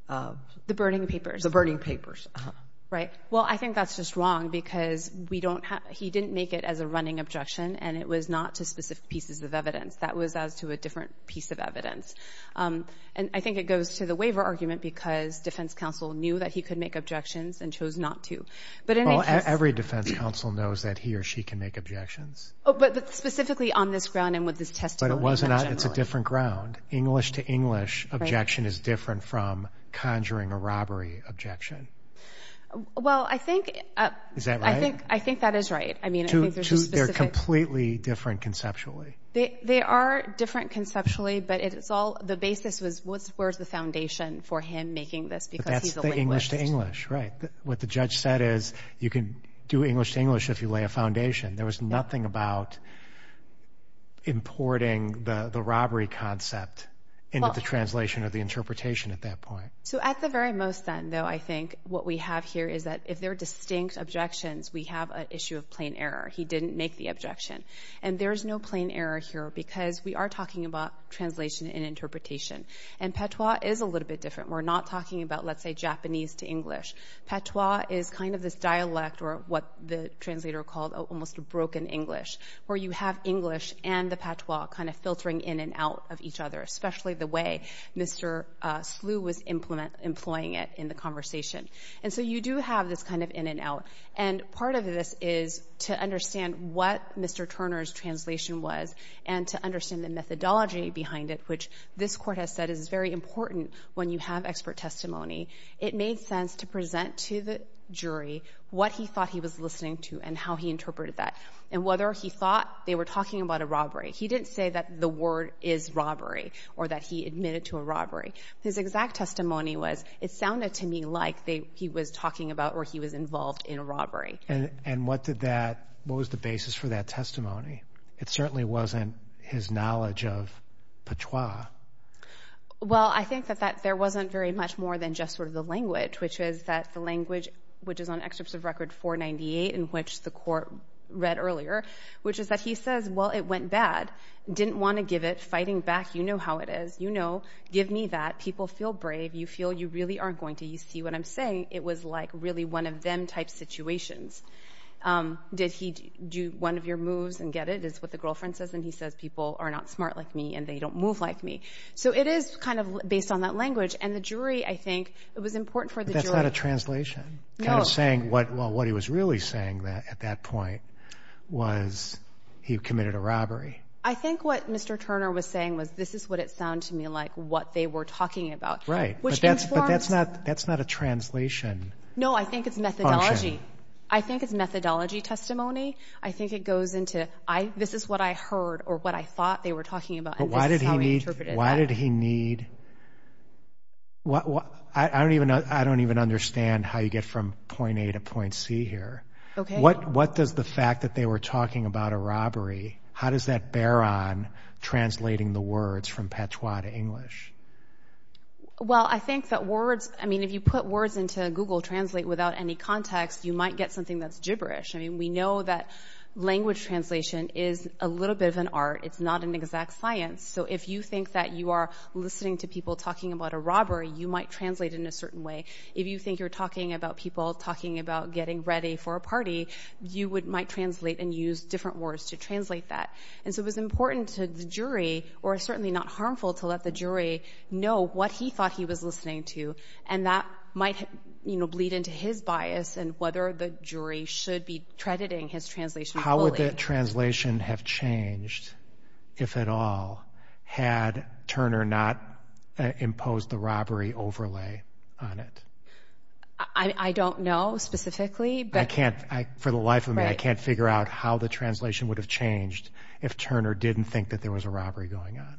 The burning papers. The burning papers. Right. Well, I think that's just wrong because we don't have, he didn't make it as a running objection and it was not to specific pieces of evidence. That was as to a different piece of evidence. And I think it goes to the waiver argument because defense counsel knew that he could make objections and chose not to. But every defense counsel knows that he or she can make objections. But specifically on this ground and with this testimony. But it was not, it's a different ground. English to English objection is different from conjuring a robbery objection. Well I think, Is that right? I think that is right. I mean, I think there's a specific Two, they're completely different conceptually. They are different conceptually, but it's all, the basis was what's, where's the foundation for him making this because he's a linguist. That's the English to English, right? What the judge said is you can do English to English if you lay a foundation. There was nothing about importing the robbery concept into the translation of the interpretation at that point. So at the very most then though, I think what we have here is that if they're distinct objections, we have an issue of plain error. He didn't make the objection. And there's no plain error here because we are talking about translation and interpretation. And patois is a little bit different. We're not talking about, let's say, Japanese to English. Patois is kind of this dialect or what the translator called almost a broken English. Where you have English and the patois kind of filtering in and out of each other. Especially the way Mr. Slew was employing it in the conversation. And so you do have this kind of in and out. And part of this is to understand what Mr. Turner's translation was and to understand the methodology behind it, which this court has said is very important when you have expert testimony. It made sense to present to the jury what he thought he was listening to and how he interpreted that. And whether he thought they were talking about a robbery. He didn't say that the word is robbery or that he admitted to a robbery. His exact testimony was, it sounded to me like he was talking about or he was involved in a robbery. And what did that, what was the basis for that testimony? It certainly wasn't his knowledge of patois. Well, I think that there wasn't very much more than just sort of the language. Which is that the language, which is on excerpts of record 498 in which the court read earlier. Which is that he says, well, it went bad. Didn't want to give it. Fighting back. You know how it is. You know. Give me that. People feel brave. You feel you really aren't going to. You see what I'm saying? It was like really one of them type situations. Did he do one of your moves and get it? Is what the girlfriend says. And he says people are not smart like me and they don't move like me. So it is kind of based on that language and the jury, I think it was important for the jury. That's not a translation. Kind of saying what, well, what he was really saying that at that point was he committed a robbery. I think what Mr. Turner was saying was this is what it sounded to me like what they were talking about. Right. But that's not, that's not a translation. No, I think it's methodology. I think it's methodology testimony. I think it goes into, I, this is what I heard or what I thought they were talking about. Why did he need, why did he need, I don't even, I don't even understand how you get from point A to point C here. What does the fact that they were talking about a robbery? How does that bear on translating the words from patois to English? Well, I think that words, I mean, if you put words into Google translate without any context, you might get something that's gibberish. I mean, we know that language translation is a little bit of an art. It's not an exact science. So if you think that you are listening to people talking about a robbery, you might translate in a certain way. If you think you're talking about people talking about getting ready for a party, you would, you might translate and use different words to translate that. And so it was important to the jury or certainly not harmful to let the jury know what he thought he was listening to. And that might, you know, bleed into his bias and whether the jury should be crediting his translation. How would that translation have changed if at all had Turner not imposed the robbery overlay on it? I don't know specifically, but I can't. For the life of me, I can't figure out how the translation would have changed if Turner didn't think that there was a robbery going on.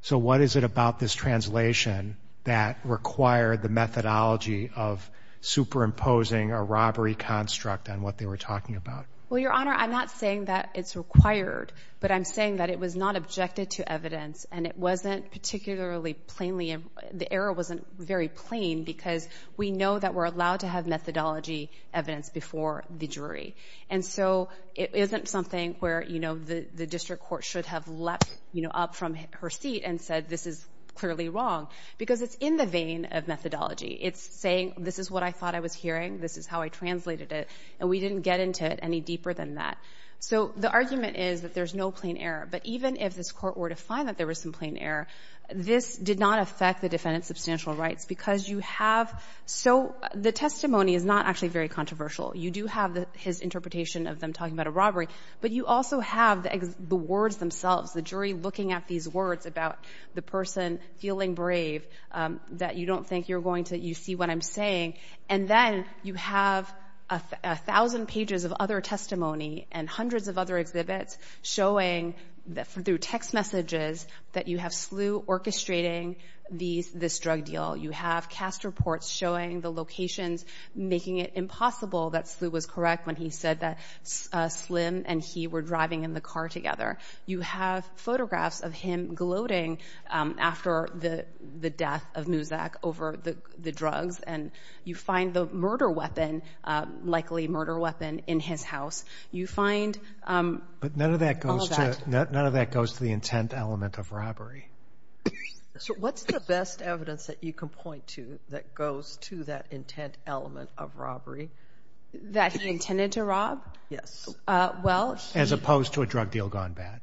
So what is it about this translation that required the methodology of superimposing a robbery construct on what they were talking about? Well, Your Honor, I'm not saying that it's required, but I'm saying that it was not objected to evidence and it wasn't particularly plainly, the error wasn't very plain because we know that we're allowed to have methodology evidence before the jury. And so it isn't something where, you know, the district court should have leapt, you know, up from her seat and said, this is clearly wrong because it's in the vein of methodology. It's saying, this is what I thought I was hearing. This is how I translated it and we didn't get into it any deeper than that. So the argument is that there's no plain error, but even if this court were to find that there was some plain error, this did not affect the defendant's substantial rights because you have, so the testimony is not actually very controversial. You do have his interpretation of them talking about a robbery, but you also have the words themselves, the jury looking at these words about the person feeling brave, that you don't think you're going to, you see what I'm saying. And then you have a thousand pages of other testimony and hundreds of other exhibits showing through text messages that you have Slew orchestrating this drug deal. You have cast reports showing the locations, making it impossible that Slew was correct when he said that Slim and he were driving in the car together. You have photographs of him gloating after the death of Muzak over the drugs. And you find the murder weapon, likely murder weapon, in his house. You find all of that. But none of that goes to the intent element of robbery. So what's the best evidence that you can point to that goes to that intent element of robbery? That he intended to rob? Yes. Well... As opposed to a drug deal gone bad.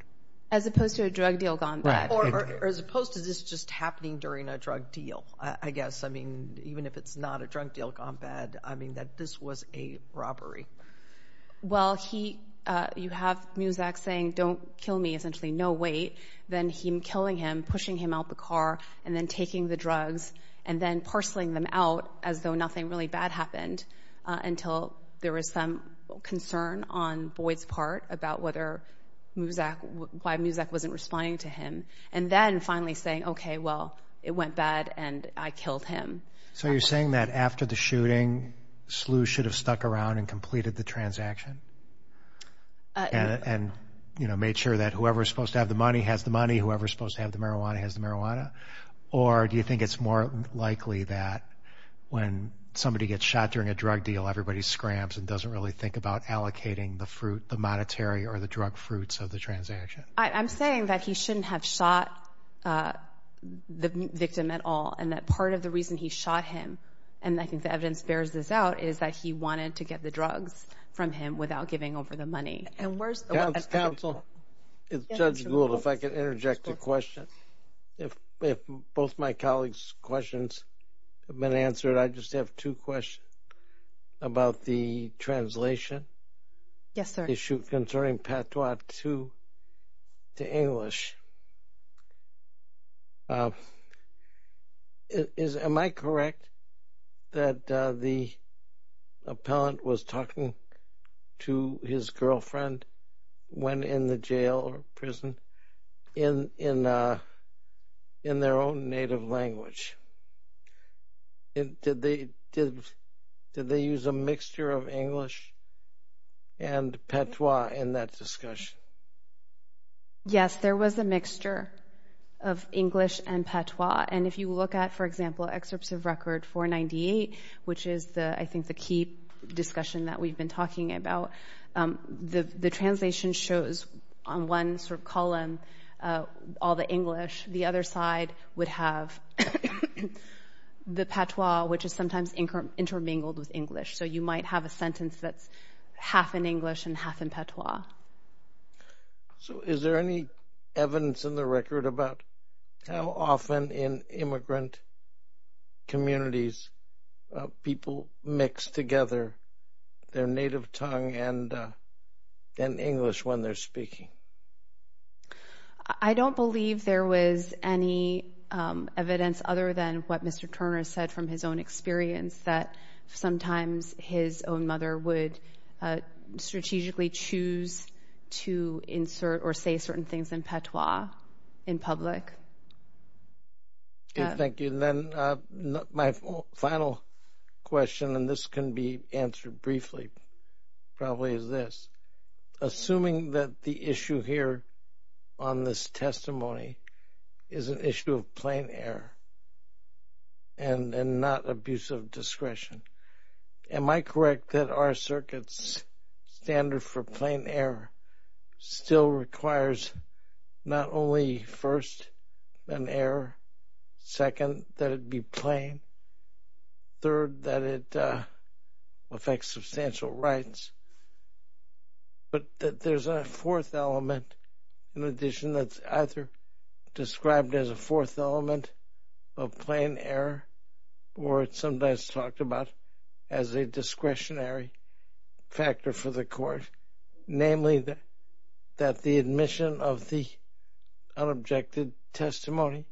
As opposed to a drug deal gone bad. Right. Or as opposed to this just happening during a drug deal, I guess. Well, he, you have Muzak saying, don't kill me, essentially, no, wait. Then him killing him, pushing him out the car, and then taking the drugs, and then parceling them out as though nothing really bad happened until there was some concern on Boyd's part about whether Muzak, why Muzak wasn't responding to him. And then finally saying, okay, well, it went bad and I killed him. So you're saying that after the shooting, Slew should have stuck around and completed the transaction? And made sure that whoever's supposed to have the money has the money, whoever's supposed to have the marijuana has the marijuana? Or do you think it's more likely that when somebody gets shot during a drug deal, everybody scrams and doesn't really think about allocating the fruit, the monetary or the drug fruits of the transaction? I'm saying that he shouldn't have shot the victim at all. And that part of the reason he shot him, and I think the evidence bears this out, is that he wanted to get the drugs from him without giving over the money. And where's- Counsel. Judge Gould, if I could interject a question. If both my colleagues' questions have been answered, I just have two questions about the translation. Yes, sir. The issue concerning Patois to English, am I correct that the appellant was talking to his girlfriend when in the jail or prison in their own native language? Did they use a mixture of English and Patois in that discussion? Yes, there was a mixture of English and Patois. And if you look at, for example, excerpts of record 498, which is I think the key discussion that we've been talking about, the translation shows on one sort of column all the English. The other side would have the Patois, which is sometimes intermingled with English. So you might have a sentence that's half in English and half in Patois. So is there any evidence in the record about how often in immigrant communities people mix together their native tongue and English when they're speaking? I don't believe there was any evidence other than what Mr. Turner said from his own experience that sometimes his own mother would strategically choose to insert or say certain things in Patois in public. Thank you. And then my final question, and this can be answered briefly, probably is this. Assuming that the issue here on this testimony is an issue of plain error and not abuse of discretion, am I correct that our circuit's standard for plain error still requires not only first, an error, second, that it be plain, third, that it affects substantial rights, but that there's a fourth element, an addition that's either described as a fourth element of plain error or it's sometimes talked about as a discretionary factor for the court, namely that the admission of the unobjected testimony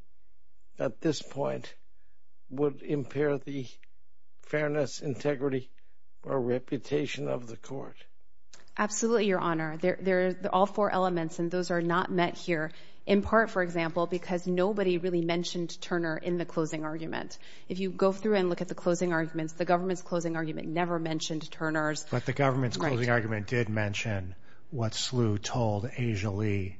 at this point would impair the fairness, integrity or reputation of the court? Absolutely, Your Honor. All four elements, and those are not met here in part, for example, because nobody really mentioned Turner in the closing argument. If you go through and look at the closing arguments, the government's closing argument never mentioned Turner's. But the government's closing argument did mention what Slew told Asia Lee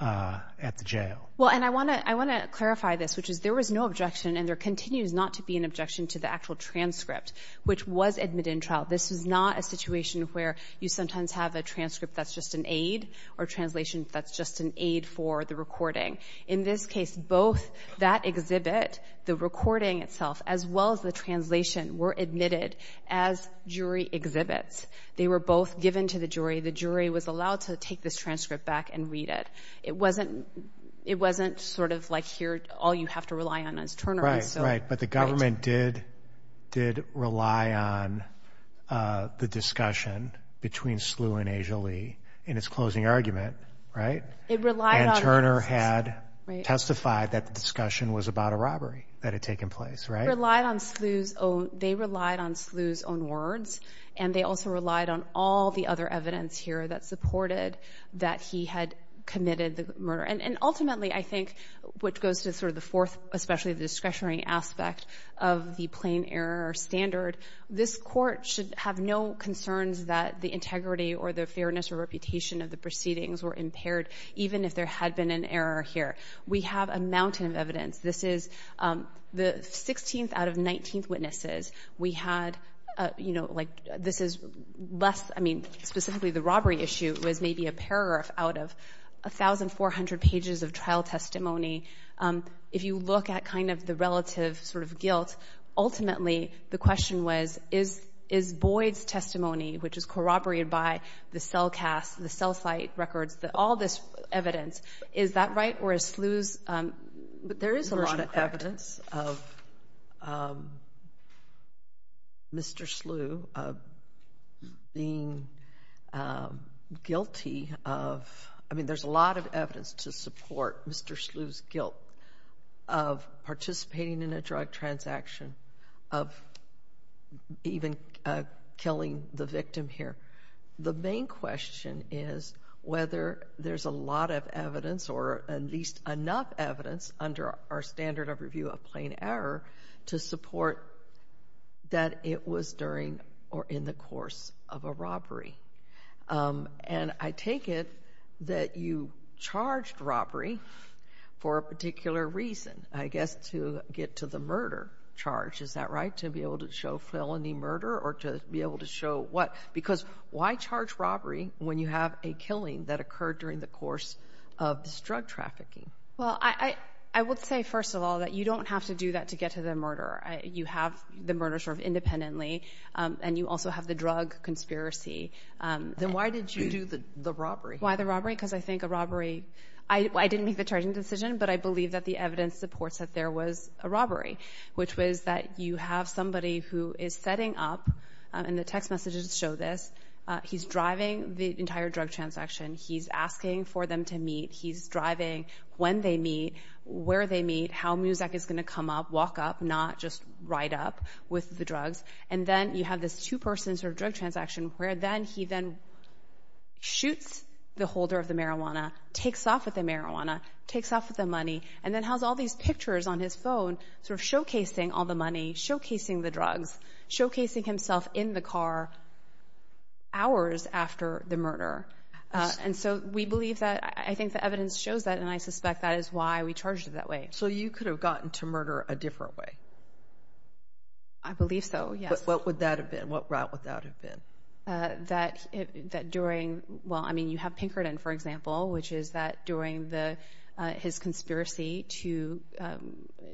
at the jail. Well, and I want to clarify this, which is there was no objection and there continues not to be an objection to the actual transcript, which was admitted in trial. This is not a situation where you sometimes have a transcript that's just an aid or translation that's just an aid for the recording. In this case, both that exhibit, the recording itself, as well as the translation were admitted as jury exhibits. They were both given to the jury. The jury was allowed to take this transcript back and read it. It wasn't sort of like here, all you have to rely on is Turner. Right, but the government did rely on the discussion between Slew and Asia Lee in its closing argument, and Turner had testified that the discussion was about a robbery that had taken place, right? They relied on Slew's own words, and they also relied on all the other evidence here that supported that he had committed the murder. And ultimately, I think, which goes to sort of the fourth, especially the discretionary aspect of the plain error standard, this Court should have no concerns that the integrity or the fairness or reputation of the proceedings were impaired, even if there had been an error here. We have a mountain of evidence. This is the 16th out of 19 witnesses. We had, you know, like this is less, I mean, specifically the robbery issue was maybe a few pages of trial testimony. If you look at kind of the relative sort of guilt, ultimately, the question was, is Boyd's testimony, which is corroborated by the cell cast, the cell site records, all this evidence, is that right, or is Slew's version correct? There is a lot of evidence of Mr. Slew being guilty of, I mean, there's a lot of evidence to support Mr. Slew's guilt of participating in a drug transaction, of even killing the victim here. The main question is whether there's a lot of evidence or at least enough evidence under our standard of review of plain error to support that it was during or in the course of a robbery. And I take it that you charged robbery for a particular reason, I guess, to get to the murder charge. Is that right? To be able to show felony murder or to be able to show what? Because why charge robbery when you have a killing that occurred during the course of this drug trafficking? Well, I would say, first of all, that you don't have to do that to get to the murder. You have the murder sort of independently, and you also have the drug conspiracy. Then why did you do the robbery? Why the robbery? Because I think a robbery, I didn't make the charging decision, but I believe that the evidence supports that there was a robbery, which was that you have somebody who is setting up, and the text messages show this, he's driving the entire drug transaction. He's asking for them to meet. He's driving when they meet, where they meet, how Muzak is going to come up, walk up, not just ride up with the drugs. And then you have this two-person drug transaction, where then he then shoots the holder of the marijuana, takes off with the marijuana, takes off with the money, and then has all these pictures on his phone showcasing all the money, showcasing the drugs, showcasing himself in the car hours after the murder. And so we believe that, I think the evidence shows that, and I suspect that is why we charged it that way. So you could have gotten to murder a different way? I believe so, yes. But what would that have been? What route would that have been? That during, well, I mean, you have Pinkerton, for example, which is that during his conspiracy to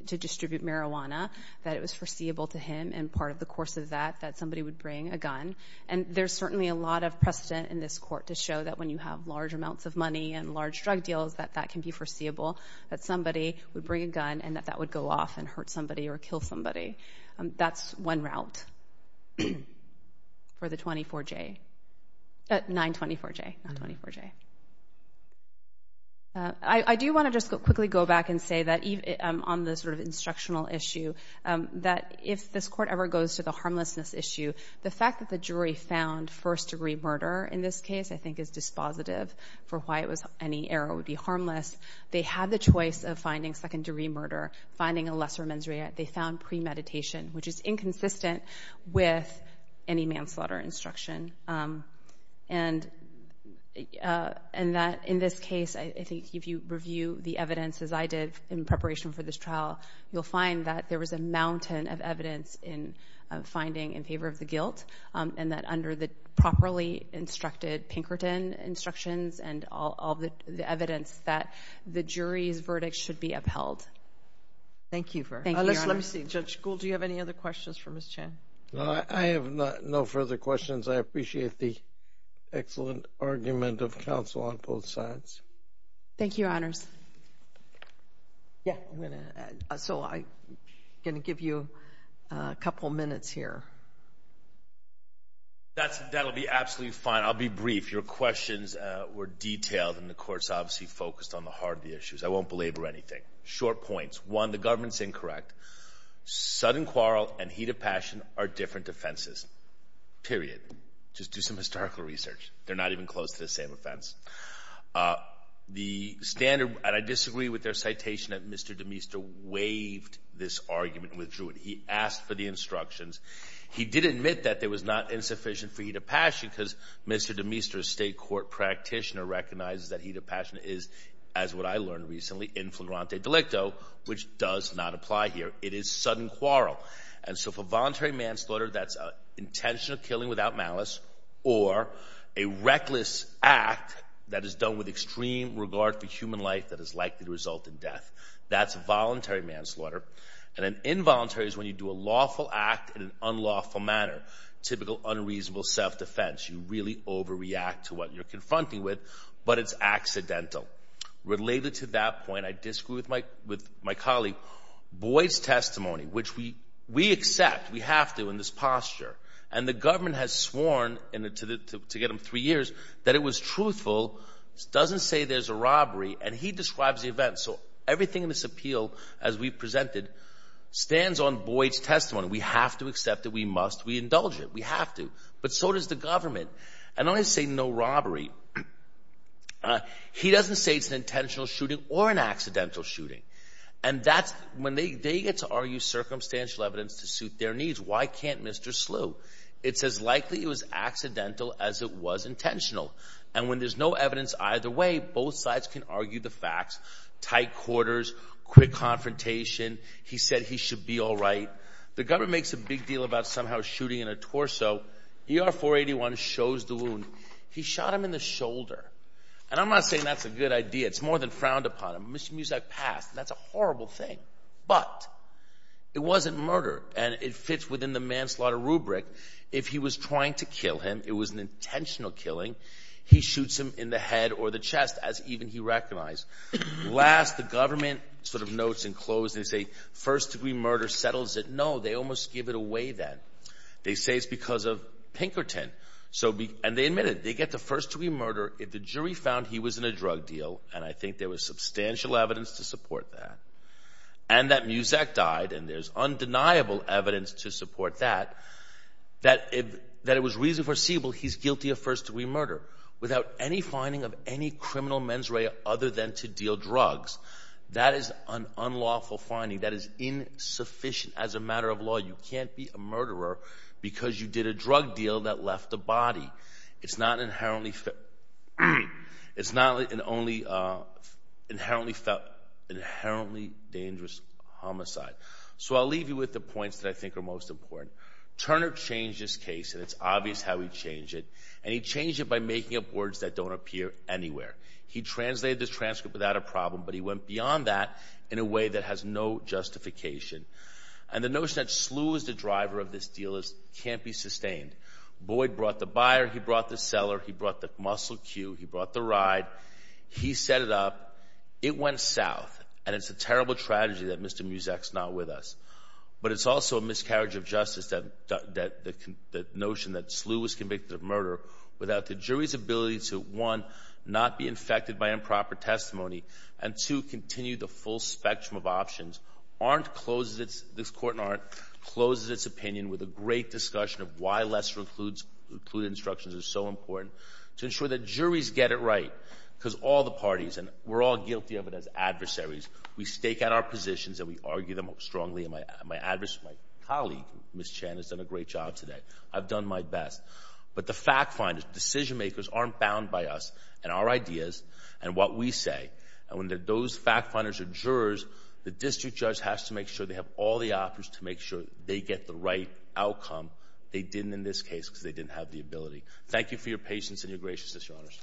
distribute marijuana, that it was foreseeable to him, and part of the course of that, that somebody would bring a gun. And there's certainly a lot of precedent in this court to show that when you have large amounts of money and large drug deals, that that can be foreseeable, that somebody would bring a gun, and that that would go off and hurt somebody or kill somebody. That's one route for the 24J, 924J, not 24J. I do want to just quickly go back and say that on this sort of instructional issue, that if this court ever goes to the harmlessness issue, the fact that the jury found first-degree murder in this case, I think is dispositive for why it was any error would be harmless. They had the choice of finding second-degree murder, finding a lesser mens rea, they found premeditation, which is inconsistent with any manslaughter instruction. And that in this case, I think if you review the evidence, as I did in preparation for this trial, you'll find that there was a mountain of evidence in finding in favor of the guilt, and that under the properly instructed Pinkerton instructions and all of the evidence, that the jury's verdict should be upheld. Thank you, Your Honor. Let me see. Judge Gould, do you have any other questions for Ms. Chen? No, I have no further questions. I appreciate the excellent argument of counsel on both sides. Thank you, Your Honors. Yeah. So I'm going to give you a couple minutes here. That'll be absolutely fine. I'll be brief. Your questions were detailed, and the Court's obviously focused on the Harvey issues. I won't belabor anything. Short points. One, the government's incorrect. Sudden quarrel and heat of passion are different offenses, period. Just do some historical research. They're not even close to the same offense. The standard, and I disagree with their citation that Mr. DeMister waived this argument and withdrew it. He asked for the instructions. He did admit that it was not insufficient for heat of passion because Mr. DeMister, a state court practitioner, recognizes that heat of passion is, as what I learned recently, in flagrante delicto, which does not apply here. It is sudden quarrel. And so for voluntary manslaughter, that's intentional killing without malice, or a reckless act that is done with extreme regard for human life that is likely to result in death. That's voluntary manslaughter. And an involuntary is when you do a lawful act in an unlawful manner, typical unreasonable self-defense. You really overreact to what you're confronting with, but it's accidental. Related to that point, I disagree with my colleague Boyd's testimony, which we accept. We have to in this posture. And the government has sworn, to get them three years, that it was truthful, doesn't say there's a robbery, and he describes the event. So everything in this appeal, as we presented, stands on Boyd's testimony. We have to accept it. We must. We indulge it. We have to. But so does the government. And I don't want to say no robbery. He doesn't say it's an intentional shooting or an accidental shooting. And when they get to argue circumstantial evidence to suit their needs, why can't Mr. Slough? It's as likely it was accidental as it was intentional. And when there's no evidence either way, both sides can argue the facts. Tight quarters, quick confrontation. He said he should be all right. The government makes a big deal about somehow shooting in a torso. ER-481 shows the wound. He shot him in the shoulder. And I'm not saying that's a good idea. It's more than frowned upon. It means I passed. And that's a horrible thing. But it wasn't murder. And it fits within the manslaughter rubric. If he was trying to kill him, it was an intentional killing. He shoots him in the head or the chest, as even he recognized. Last, the government sort of notes and close and say, first-degree murder settles it. No, they almost give it away then. They say it's because of Pinkerton. And they admit it. They get the first-degree murder. If the jury found he was in a drug deal, and I think there was substantial evidence to and that Muzak died, and there's undeniable evidence to support that, that it was reason foreseeable he's guilty of first-degree murder without any finding of any criminal mens rea other than to deal drugs. That is an unlawful finding. That is insufficient as a matter of law. You can't be a murderer because you did a drug deal that left a body. It's not an inherently dangerous homicide. So I'll leave you with the points that I think are most important. Turner changed his case, and it's obvious how he changed it. And he changed it by making up words that don't appear anywhere. He translated this transcript without a problem, but he went beyond that in a way that has no justification. And the notion that slew is the driver of this deal can't be sustained. Boyd brought the buyer, he brought the seller, he brought the muscle queue, he brought the ride, he set it up. It went south, and it's a terrible tragedy that Mr. Muzak's not with us. But it's also a miscarriage of justice that the notion that slew was convicted of murder without the jury's ability to, one, not be infected by improper testimony, and two, continue the full spectrum of options, this Court in Arndt closes its opinion with a great discussion of why lesser-included instructions are so important, to ensure that juries get it right. Because all the parties, and we're all guilty of it as adversaries, we stake out our positions and we argue them strongly. And my colleague, Ms. Chan, has done a great job today. I've done my best. But the fact finders, decision makers, aren't bound by us and our ideas and what we say. And when those fact finders are jurors, the district judge has to make sure they have all the options to make sure they get the right outcome. They didn't in this case because they didn't have the ability. Thank you for your patience and your graciousness, Your Honors.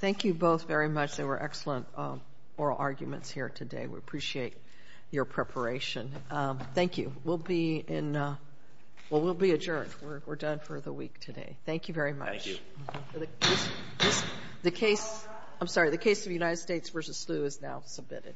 Thank you both very much. There were excellent oral arguments here today. We appreciate your preparation. Thank you. We'll be in, well, we'll be adjourned. We're done for the week today. Thank you very much. Thank you. The case, I'm sorry, the case of United States v. Slew is now submitted.